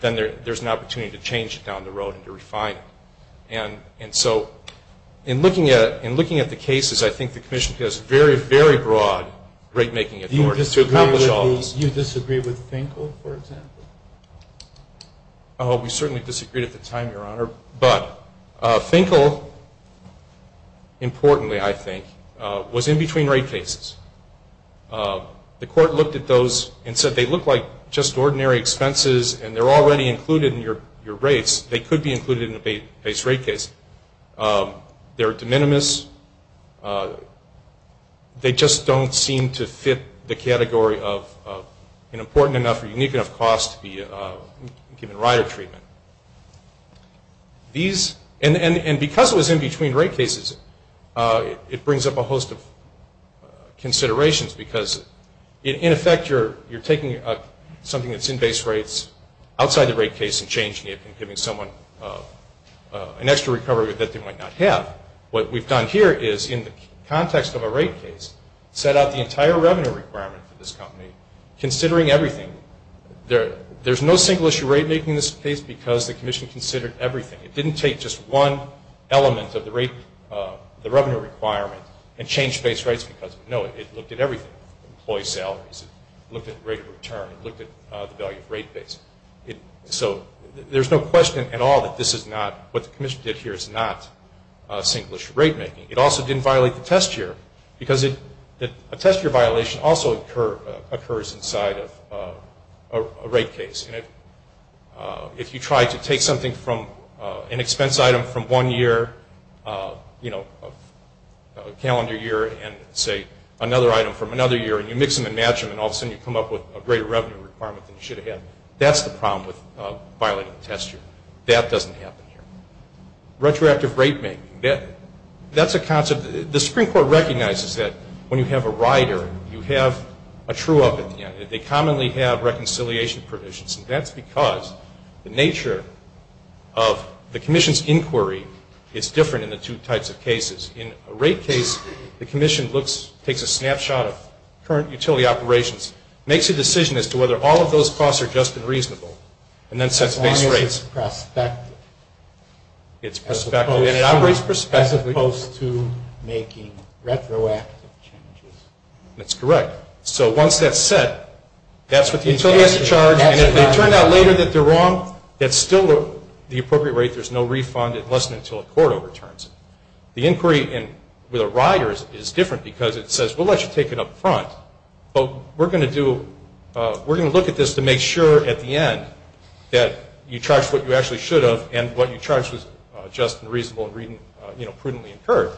then there's an opportunity to change it down the road and to refine it. And so in looking at the cases, I think the commission has very, very broad rate making authority. Do you disagree with Finkel, for example? We certainly disagreed at the time, Your Honor. But Finkel, importantly I think, was in between rate cases. The court looked at those and said they look like just ordinary expenses and they're already included in your rates. They could be included in the base rate case. They're de minimis. They just don't seem to fit the category of an important enough or unique enough cost to be given rider treatment. And because it was in between rate cases, it brings up a host of considerations because in effect you're taking something that's in base rates outside the rate case and changing it and giving someone an extra recovery that they might not have. What we've done here is, in the context of a rate case, set up the entire revenue requirement for this company, considering everything. There's no single issue rate making this case because the commission considered everything. It didn't take just one element of the revenue requirement and change base rates because, no, it looked at everything, employee salaries, it looked at rate of return, it looked at the value of rate base. So there's no question at all that what the commission did here is not single issue rate making. It also didn't violate the test year because a test year violation also occurs inside a rate case. If you try to take something from an expense item from one year, calendar year, and say another item from another year and you mix them and match them and all of a sudden you come up with a greater revenue requirement than you should have had, that's the problem with violating the test year. That doesn't happen here. Retroactive rate making, that's a concept. The Supreme Court recognizes that when you have a rider, you have a true offender. They commonly have reconciliation provisions. That's because the nature of the commission's inquiry is different in the two types of cases. In a rate case, the commission takes a snapshot of current utility operations, makes a decision as to whether all of those costs are just and reasonable, and then sets base rates. It's perspective. It's perspective. It operates perspective as opposed to making retroactive changes. That's correct. So once that's set, that's what the utility has to charge. And if it turns out later that they're wrong, that's still the appropriate rate. There's no refund unless and until a court overturns. The inquiry with a rider is different because it says, well, I should take it up front. So we're going to look at this to make sure at the end that you charge what you actually should have and what you charge is just and reasonable and prudently incurred.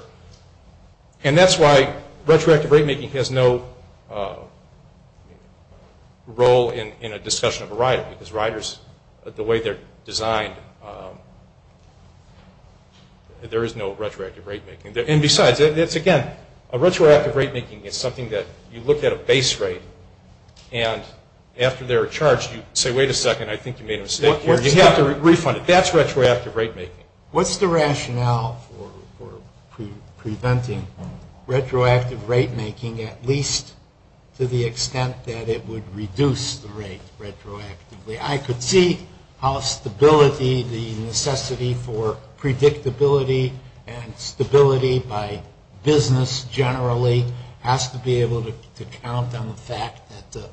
And that's why retroactive rate making has no role in a discussion of a rider because riders, the way they're designed, there is no retroactive rate making. And besides, again, a retroactive rate making is something that you look at a base rate and after they're charged, you say, wait a second, I think you made a mistake. You have to refund it. That's retroactive rate making. What's the rationale for preventing retroactive rate making at least to the extent that it would reduce the rate retroactively? I could see how stability, the necessity for predictability and stability by business generally, has to be able to count on the fact that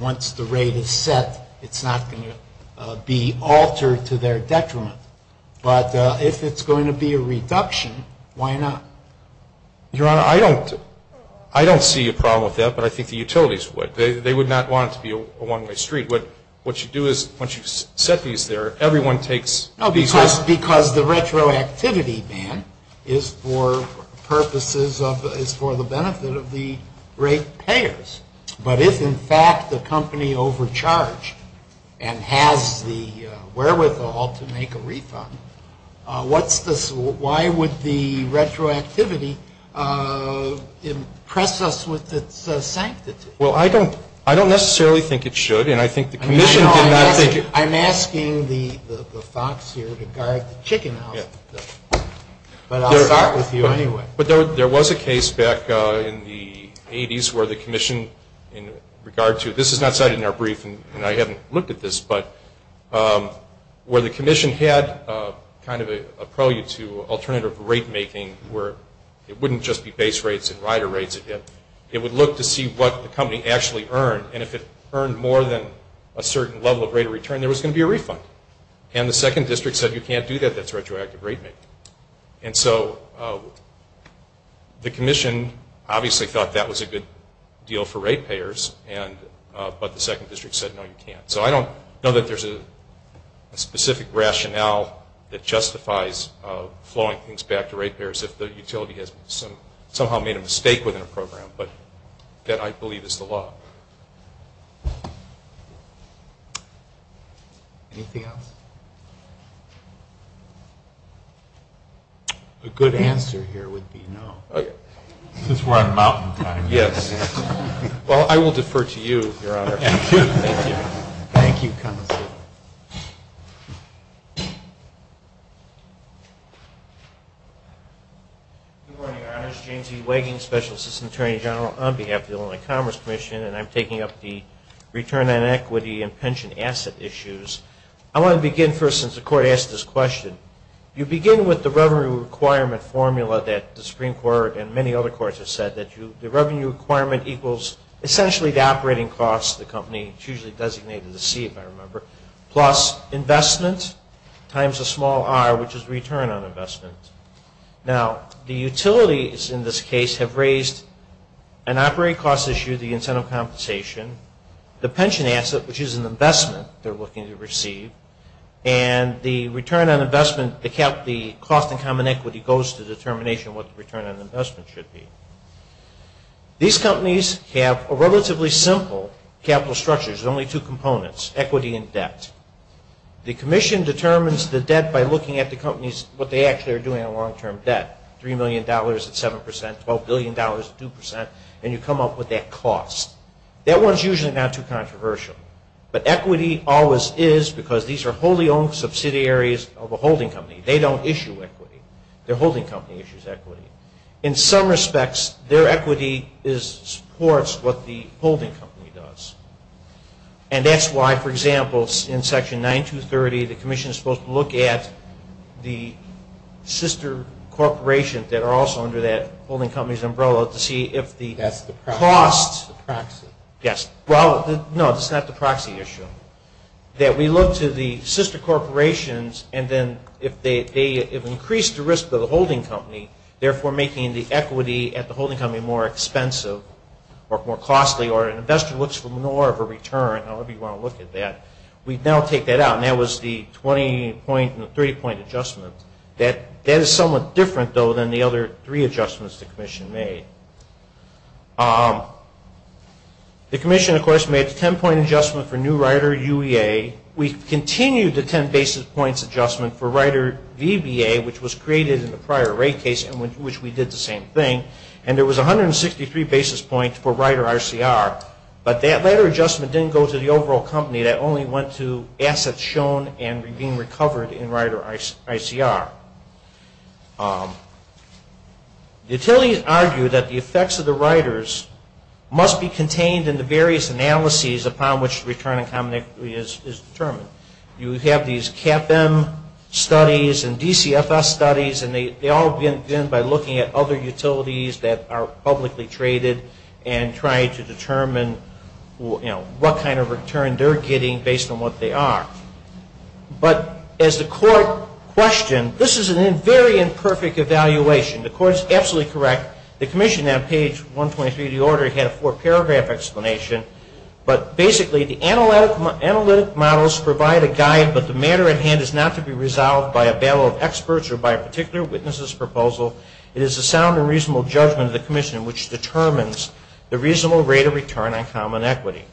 once the rate is set, it's not going to be altered to their detriment. But if it's going to be a reduction, why not? Your Honor, I don't see a problem with that, but I think the utilities would. They would not want it to be a one-way street. What you do is once you set these there, everyone takes... Because the retroactivity, Dan, is for purposes of, is for the benefit of the rate payers. But if, in fact, the company overcharged and has the wherewithal to make a refund, why would the retroactivity impress us with its sanctity? Well, I don't necessarily think it should, and I think the Commission... I'm asking the thoughts here in regards to chicken houses. But I'll talk with you anyway. But there was a case back in the 80s where the Commission, in regards to... This is not cited in our brief, and I haven't looked at this, but where the Commission had kind of a prelude to alternative rate making where it wouldn't just be base rates and rider rates again. It would look to see what the company actually earned, and if it earned more than a certain level of rate of return, there was going to be a refund. And the Second District said, you can't do that. That's retroactive rate making. And so the Commission obviously thought that was a good deal for rate payers, but the Second District said, no, you can't. So I don't know that there's a specific rationale that justifies flowing things back to rate payers if the utility has somehow made a mistake within a program, but that I believe is the law. Anything else? A good answer here would be no. Since we're on a mountainside. Well, I will defer to you, Your Honor. Thank you. Good morning, Your Honor. I'm James E. Wagon, Special Assistant Attorney General on behalf of the Illinois Commerce Commission, and I'm taking up the return on equity and pension asset issues. I want to begin first, since the Court asked this question. You begin with the revenue requirement formula that the Supreme Court and many other courts have said that the revenue requirement equals essentially the operating cost of the company, it's usually designated in the C if I remember, plus investment times a small r, which is return on investment. Now, the utilities in this case have raised an operating cost issue, the incentive compensation, the pension asset, which is an investment they're looking to receive, and the return on investment, the cost in common equity, goes to determination what the return on investment should be. These companies have a relatively simple capital structure. There's only two components, equity and debt. The Commission determines the debt by looking at the companies, what they actually are doing on long-term debt, $3 million at 7 percent, $12 billion at 2 percent, and you come up with that cost. That one's usually not too controversial, but equity always is because these are wholly owned subsidiaries of a holding company. They don't issue equity. The holding company issues equity. In some respects, their equity supports what the holding company does. And that's why, for example, in Section 9230, the Commission is supposed to look at the sister corporations that are also under that holding company's umbrella to see if the costs... That's the proxy. No, that's not the proxy issue. That we look to the sister corporations, and then if they have increased the risk of the holding company, therefore making the equity at the holding company more expensive or more costly or an investor looks for more of a return, however you want to look at that. We now take that out, and that was the 20-point and the 30-point adjustment. That is somewhat different, though, than the other three adjustments the Commission made. The Commission, of course, made the 10-point adjustment for New Rider UEA. We continued the 10 basis points adjustment for Rider VBA, which was created in the prior rate case in which we did the same thing, and there was 163 basis points for Rider ICR, but that later adjustment didn't go to the overall company. That only went to assets shown and being recovered in Rider ICR. Utilities argue that the effects of the riders must be contained in the various analyses upon which return and common equity is determined. You have these CAPM studies and DCFS studies, and they all begin by looking at other utilities that are publicly traded and trying to determine what kind of return they're getting based on what they are. But as the Court questioned, this is a very imperfect evaluation. The Court is absolutely correct. The Commission on page 123 of the order had a four-paragraph explanation, but basically the analytic models provide a guide, but the matter at hand is not to be resolved by a battle of experts or by a particular witness's proposal. It is the sound and reasonable judgment of the Commission which determines the reasonable rate of return on common equity.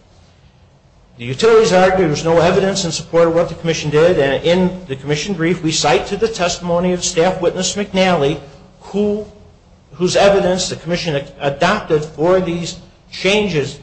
The utilities argue there's no evidence in support of what the Commission did, and in the Commission brief we cite to the testimony of Staff Witness McNally, whose evidence the Commission adopted for these changes,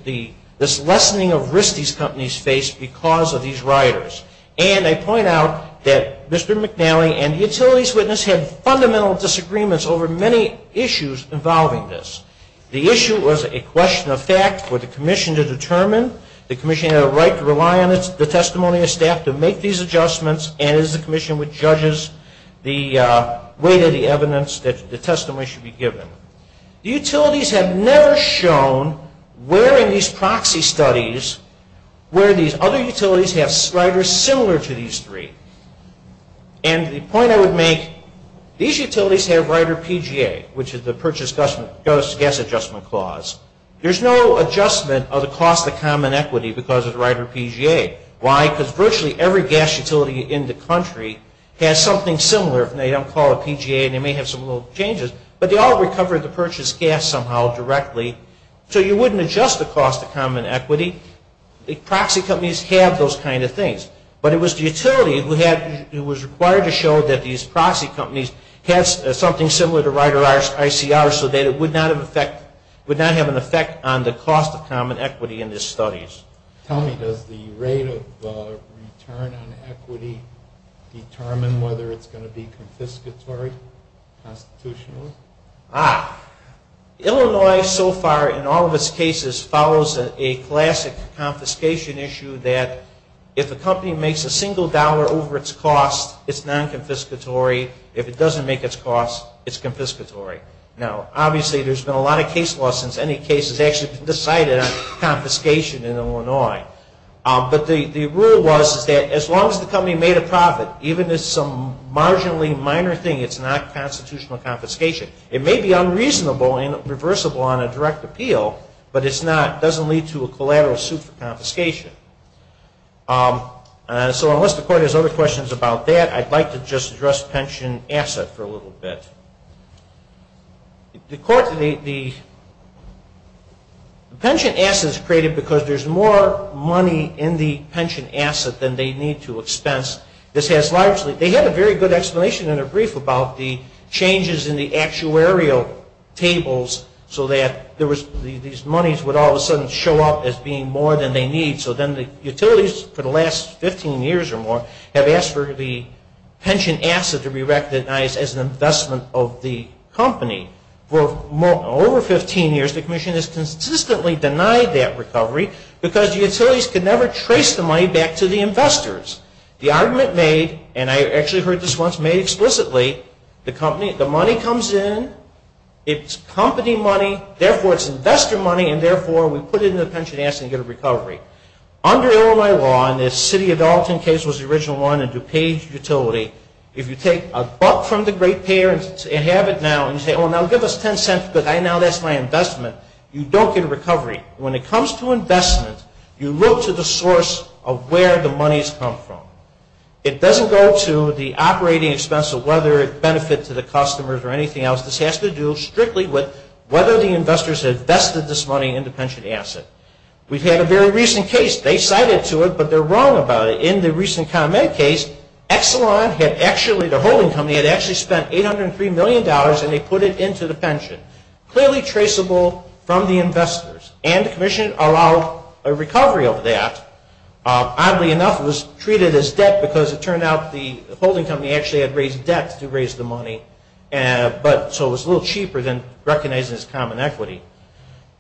this lessening of risk these companies face because of these riders. And I point out that Mr. McNally and the utilities witness had fundamental disagreements over many issues involving this. The issue was a question of fact for the Commission to determine. The Commission had a right to rely on the testimony of staff to make these adjustments and it is the Commission which judges the weight of the evidence that the testimony should be given. The utilities have never shown where in these proxy studies where these other utilities have riders similar to these three. And the point I would make, these utilities have rider PGA, which is the Purchase Gas Adjustment Clause. There's no adjustment of the cost of common equity because of the rider PGA. Why? Because virtually every gas utility in the country has something similar. They don't call it a PGA and they may have some little changes, but they all recover the purchased gas somehow directly, so you wouldn't adjust the cost of common equity. Proxy companies have those kind of things, but it was the utility that was required to show that these proxy companies had something similar to rider ICR so that it would not have an effect on the cost of common equity in these studies. Tell me, does the rate of return on equity determine whether it's going to be confiscatory constitutionally? Ah, Illinois so far in all of its cases follows a classic confiscation issue that if a company makes a single dollar over its cost, it's non-confiscatory. If it doesn't make its cost, it's confiscatory. Now obviously there's been a lot of case law since any case has actually been decided on confiscation in Illinois, but the rule was that as long as the company made a profit, even if it's some marginally minor thing, it's not constitutional confiscation. It may be unreasonable and reversible on a direct appeal, but it doesn't lead to a collateral suit for confiscation. So unless the court has other questions about that, I'd like to just address pension asset for a little bit. The pension asset is created because there's more money in the pension asset than they need to expense. This has largely... They had a very good explanation in their brief about the changes in the actuarial tables so that these monies would all of a sudden show up as being more than they need. So then the utilities for the last 15 years or more have asked for the pension asset to be recognized as an investment of the company. For over 15 years, the commission has consistently denied that recovery because the utilities could never trace the money back to the investors. The argument made, and I actually heard this once made explicitly, the money comes in, it's company money, therefore it's investor money, and therefore we put it in the pension asset and get a recovery. Under Illinois law, and the City of Dalton case was the original one of DuPage Utility, if you take a buck from the great payers and have it now, and you say, oh, now give us 10 cents because I know that's my investment, you don't get a recovery. When it comes to investment, you look to the source of where the monies come from. It doesn't go to the operating expense of whether it benefits the customers or anything else. This has to do strictly with whether the investors invested this money in the pension asset. We've had a very recent case. They cited to it, but they're wrong about it. In the recent ComEd case, Exelon had actually, the holding company, had actually spent $803 million and they put it into the pension. Clearly traceable from the investors. And the commission allowed a recovery of that. Oddly enough, it was treated as debt because it turned out the holding company actually had raised debt to raise the money, so it was a little cheaper than recognizing it as common equity.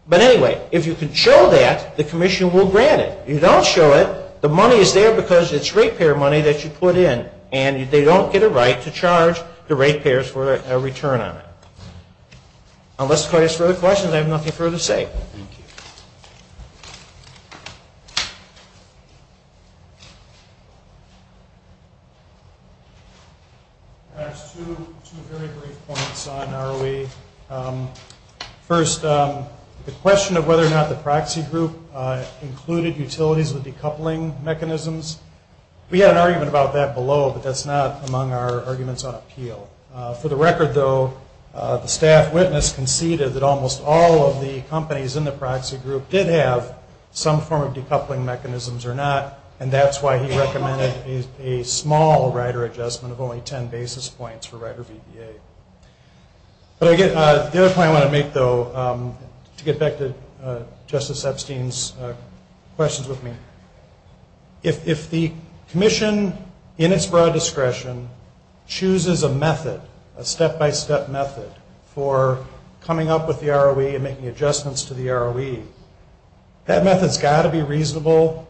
But anyway, if you can show that, the commission will grant it. If you don't show it, the money is there because it's rate payer money that you put in, and they don't get a right to charge the rate payers for a return on it. Unless there are questions, I have nothing further to say. Thank you. I have two very great points on ROE. First, the question of whether or not the proxy group included utilities with decoupling mechanisms. We had an argument about that below, but that's not among our arguments on appeal. For the record, though, the staff witness conceded that almost all of the companies in the proxy group did have some form of decoupling mechanisms or not, and that's why he recommended a small rider adjustment of only 10 basis points for rider BPA. The other point I want to make, though, to get back to Justice Epstein's questions with me, if the commission in its broad discretion chooses a method, a step-by-step method, for coming up with the ROE and making adjustments to the ROE, that method's got to be reasonable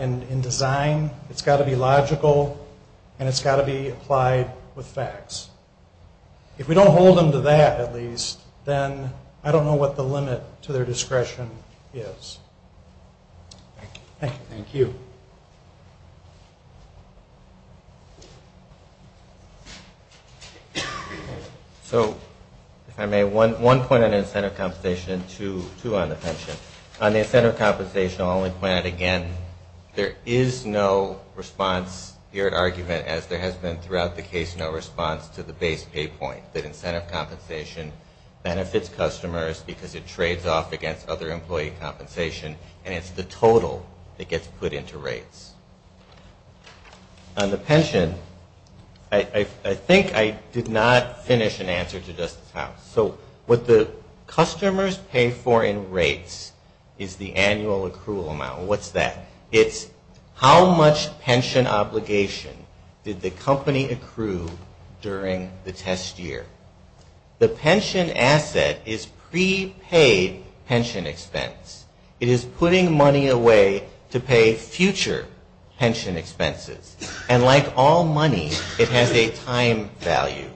in design, it's got to be logical, and it's got to be applied with facts. If we don't hold them to that, at least, then I don't know what the limit to their discretion is. Thank you. So, if I may, one point on incentive compensation and two on the pension. On the incentive compensation, I'll only point out again, there is no response, your argument as there has been throughout the case, no response to the base pay point, that incentive compensation benefits customers because it trades off against other employee compensation, and it's the total that gets put into rates. On the pension, I think I did not finish an answer to Justice Powell. So, what the customers pay for in rates is the annual accrual amount. What's that? It's how much pension obligation did the company accrue during the test year. The pension asset is prepaid pension expense. It is putting money away to pay future pension expenses. And like all money, it has a time value.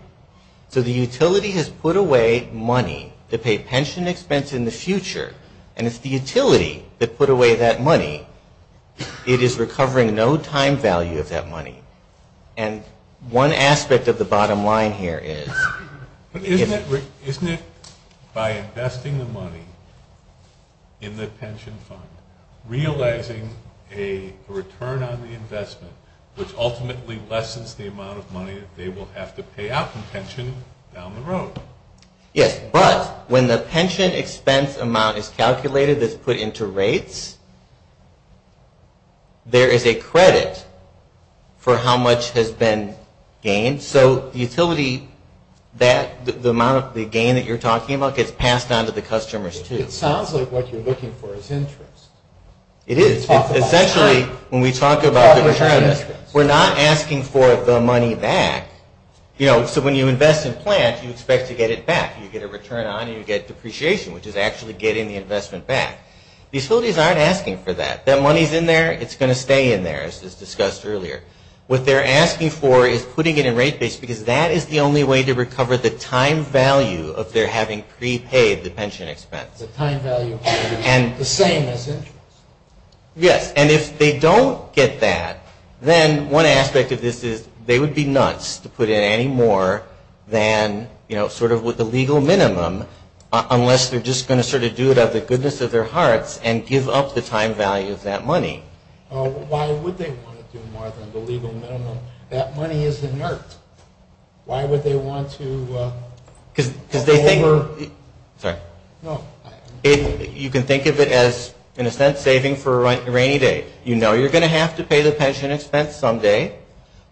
So, the utility has put away money to pay pension expense in the future, and it's the utility that put away that money. It is recovering no time value of that money. And one aspect of the bottom line here is... Isn't it by investing the money in the pension fund, realizing a return on the investment, which ultimately lessens the amount of money they will have to pay out from pension down the road? Yes, but when the pension expense amount is calculated, it's put into rates, there is a credit for how much has been gained. So, utility, the amount of the gain that you're talking about gets passed on to the customers too. It sounds like what you're looking for is interest. It is. Essentially, when we talk about the return, we're not asking for the money back. You know, so when you invest in plants, you expect to get it back. You get a return on and you get depreciation, which is actually getting the investment back. Utilities aren't asking for that. That money is in there, it's going to stay in there, as was discussed earlier. What they're asking for is putting it in rates because that is the only way to recover the time value of their having prepaid the pension expense. The time value is the same, is it? Yes. And if they don't get that, then one aspect of this is they would be nuts to put in any more than, you know, sort of with the legal minimum unless they're just going to sort of do it out of the goodness of their hearts and give up the time value of that money. Why would they want to do more than the legal minimum? That money is inert. Why would they want to... Because they think... Sorry. No. You can think of it as, in a sense, saving for a rainy day. You know you're going to have to pay the pension expense someday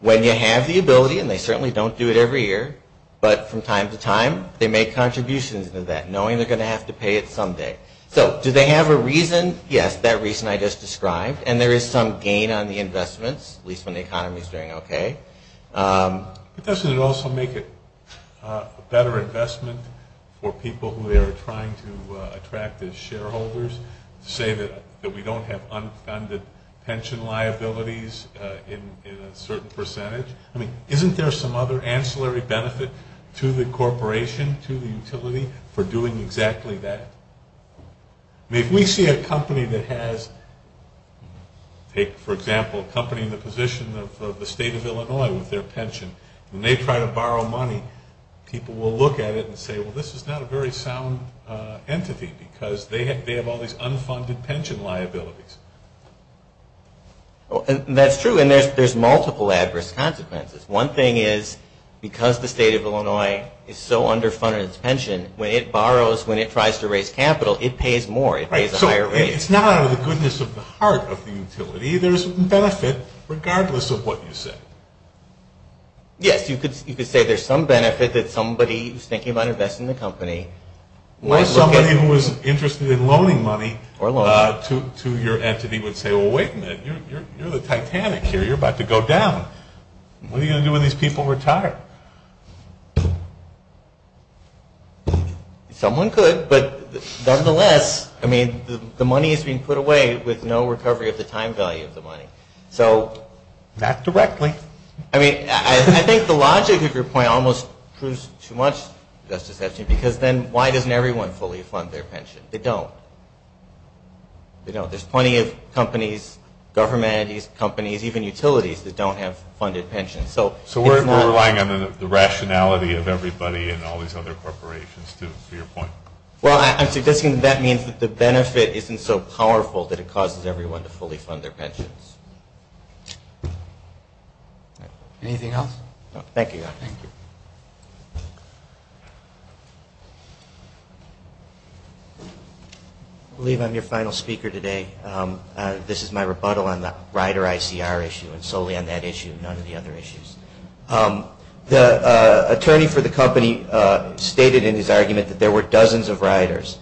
when you have the ability, and they certainly don't do it every year, but from time to time they make contributions in that knowing they're going to have to pay it someday. So do they have a reason? Yes, that reason I just described, and there is some gain on the investments, at least when the economy is doing okay. But doesn't it also make it a better investment for people who they are trying to attract as shareholders to say that we don't have unfunded pension liabilities in a certain percentage? I mean, isn't there some other ancillary benefit to the corporation, to the utility for doing exactly that? I mean, if we see a company that has, for example, a company in the position of the state of Illinois with their pension, and they try to borrow money, people will look at it and say, well, this is not a very sound entity because they have all these unfunded pension liabilities. That's true, and there's multiple adverse consequences. One thing is because the state of Illinois is so underfunded its pension, when it borrows, when it tries to raise capital, it pays more. It pays a higher rate. Right, so it's not out of the goodness of the heart of the utility. There's benefit regardless of what you say. Yes, you could say there's some benefit that somebody is thinking about investing in the company. Or somebody who is interested in loaning money to your entity would say, well, wait a minute, you're the Titanic here. You're about to go down. What are you going to do when these people retire? Someone could, but nonetheless, I mean, the money is being put away with no recovery of the time value of the money. Not directly. I mean, I think the logic of your point almost proves too much, because then why doesn't everyone fully fund their pension? They don't. There's plenty of companies, government entities, companies, even utilities that don't have funded pensions. So we're relying on the rationality of everybody and all these other corporations to your point. Well, I'm suggesting that means that the benefit isn't so powerful that it causes everyone to fully fund their pensions. Anything else? Thank you. I believe I'm your final speaker today. This is my rebuttal on the rider ICR issue and solely on that issue and none of the other issues. The attorney for the company stated in his argument that there were dozens of riders.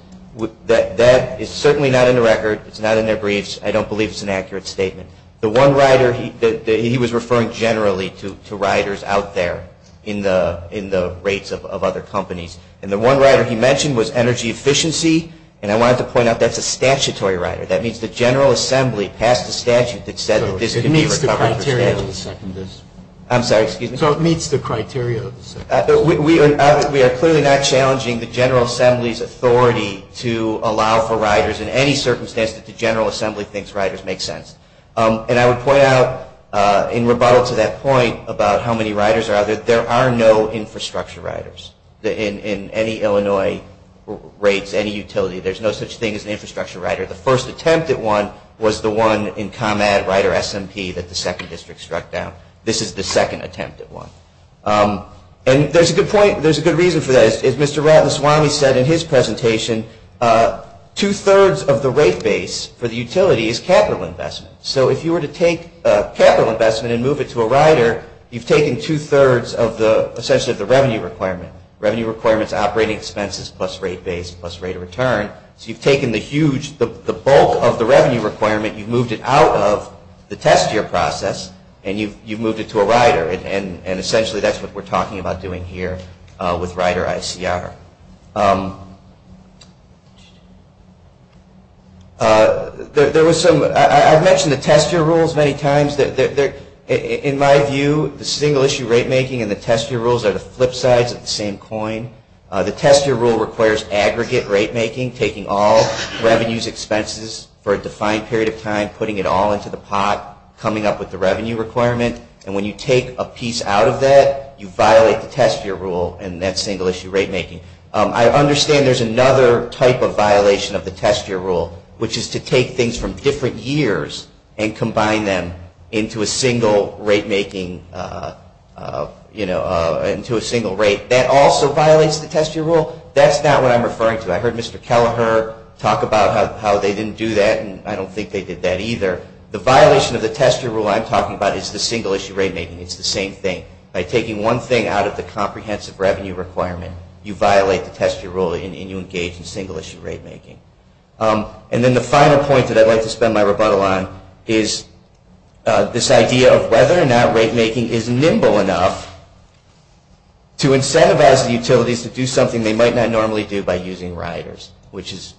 That is certainly not in the record. It's not in their briefs. I don't believe it's an accurate statement. The one rider he was referring generally to riders out there in the rates of other companies. And the one rider he mentioned was energy efficiency. And I wanted to point out that's a statutory rider. That means the General Assembly passed a statute that says it is to meet the criteria. I'm sorry, excuse me. So it meets the criteria. We are clearly not challenging the General Assembly's authority to allow for riders in any circumstance that the General Assembly thinks riders make sense. And I would point out in rebuttal to that point about how many riders are out there, there are no infrastructure riders in any Illinois rates, any utility. There's no such thing as an infrastructure rider. The first attempt at one was the one in ComEd Rider SMP that the second district struck down. This is the second attempt at one. And there's a good point. There's a good reason for that. As Mr. Ratanswamy said in his presentation, two-thirds of the rate base for the utility is capital investment. So if you were to take capital investment and move it to a rider, you've taken two-thirds of essentially the revenue requirement. Revenue requirement is operating expenses plus rate base plus rate of return. So you've taken the bulk of the revenue requirement, you've moved it out of the test year process, and you've moved it to a rider. And essentially that's what we're talking about doing here with Rider ICR. There was some, I've mentioned the test year rules many times. In my view, the single issue rate making and the test year rules are the flip sides of the same coin. The test year rule requires aggregate rate making, taking all revenues, expenses for a defined period of time, putting it all into the pot, coming up with the revenue requirement. And when you take a piece out of that, you violate the test year rule in that single issue rate making. I understand there's another type of violation of the test year rule, which is to take things from different years and combine them into a single rate making, into a single rate. That also violates the test year rule. That's not what I'm referring to. I heard Mr. Kelleher talk about how they didn't do that, and I don't think they did that either. The violation of the test year rule I'm talking about is the single issue rate making. It's the same thing. By taking one thing out of the comprehensive revenue requirement, you violate the test year rule and you engage in single issue rate making. And then the final point that I'd like to spend my rebuttal on is this idea of whether or not rate making is nimble enough to incentivize utilities to do something they might not normally do by using riders, which is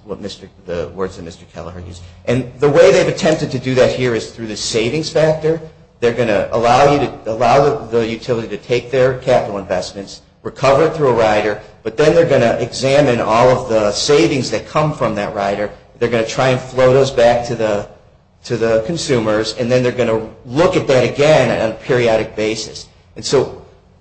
the words of Mr. Kelleher. The way they've attempted to do that here is through the savings factor. They're going to allow the utility to take their capital investments, recover it through a rider, but then they're going to examine all of the savings that come from that rider. They're going to try and flow those back to the consumers, and then they're going to look at that again on a periodic basis. That's sort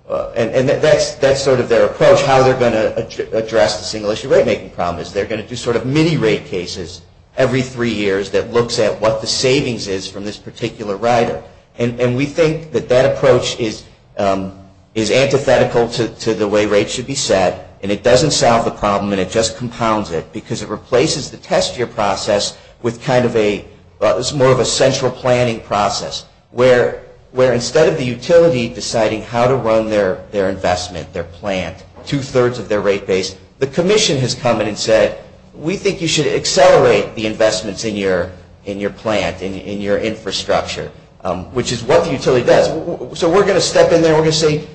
of their approach, how they're going to address the single issue rate making problem, is they're going to do sort of mini rate cases every three years that looks at what the savings is from this particular rider. And we think that that approach is antithetical to the way rates should be set, and it doesn't solve the problem and it just compounds it, because it replaces the test year process with kind of a more of a central planning process, where instead of the utility deciding how to run their investment, their plan, two-thirds of their rate base, the commission has come in and said, we think you should accelerate the investments in your plant, in your infrastructure, which is what the utility does. So we're going to step in there and we're going to say,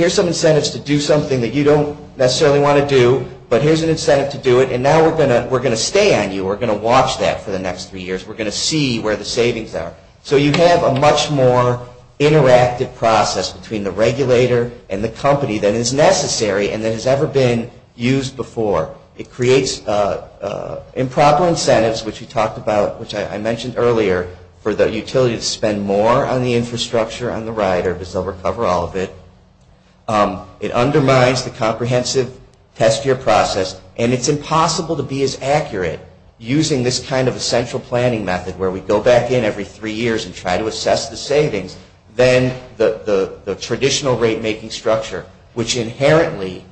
here's some incentives to do something that you don't necessarily want to do, but here's an incentive to do it, and now we're going to stay on you. We're going to watch that for the next three years. We're going to see where the savings are. So you have a much more interactive process between the regulator and the company that is necessary and that has ever been used before. It creates improper incentives, which we talked about, which I mentioned earlier, for the utility to spend more on the infrastructure and the rider, just over cover all of it. It undermines the comprehensive test year process, and it's impossible to be as accurate using this kind of central planning method, where we go back in every three years and try to assess the savings, than the traditional rate-making structure, which inherently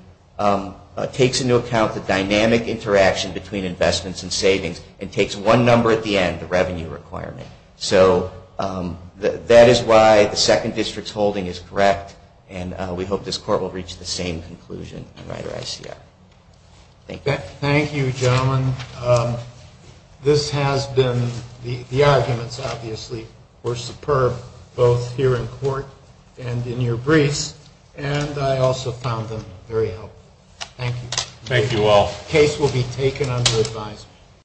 takes into account the dynamic interaction between investments and savings and takes one number at the end, the revenue requirement. So that is why the second district's holding is correct, and we hope this court will reach the same conclusion in Rider ICR. Thank you. Thank you, gentlemen. This has been, the arguments, obviously, were superb, both here in court and in your briefs, and I also found them very helpful. Thank you. Thank you all. The case will be taken under advisement.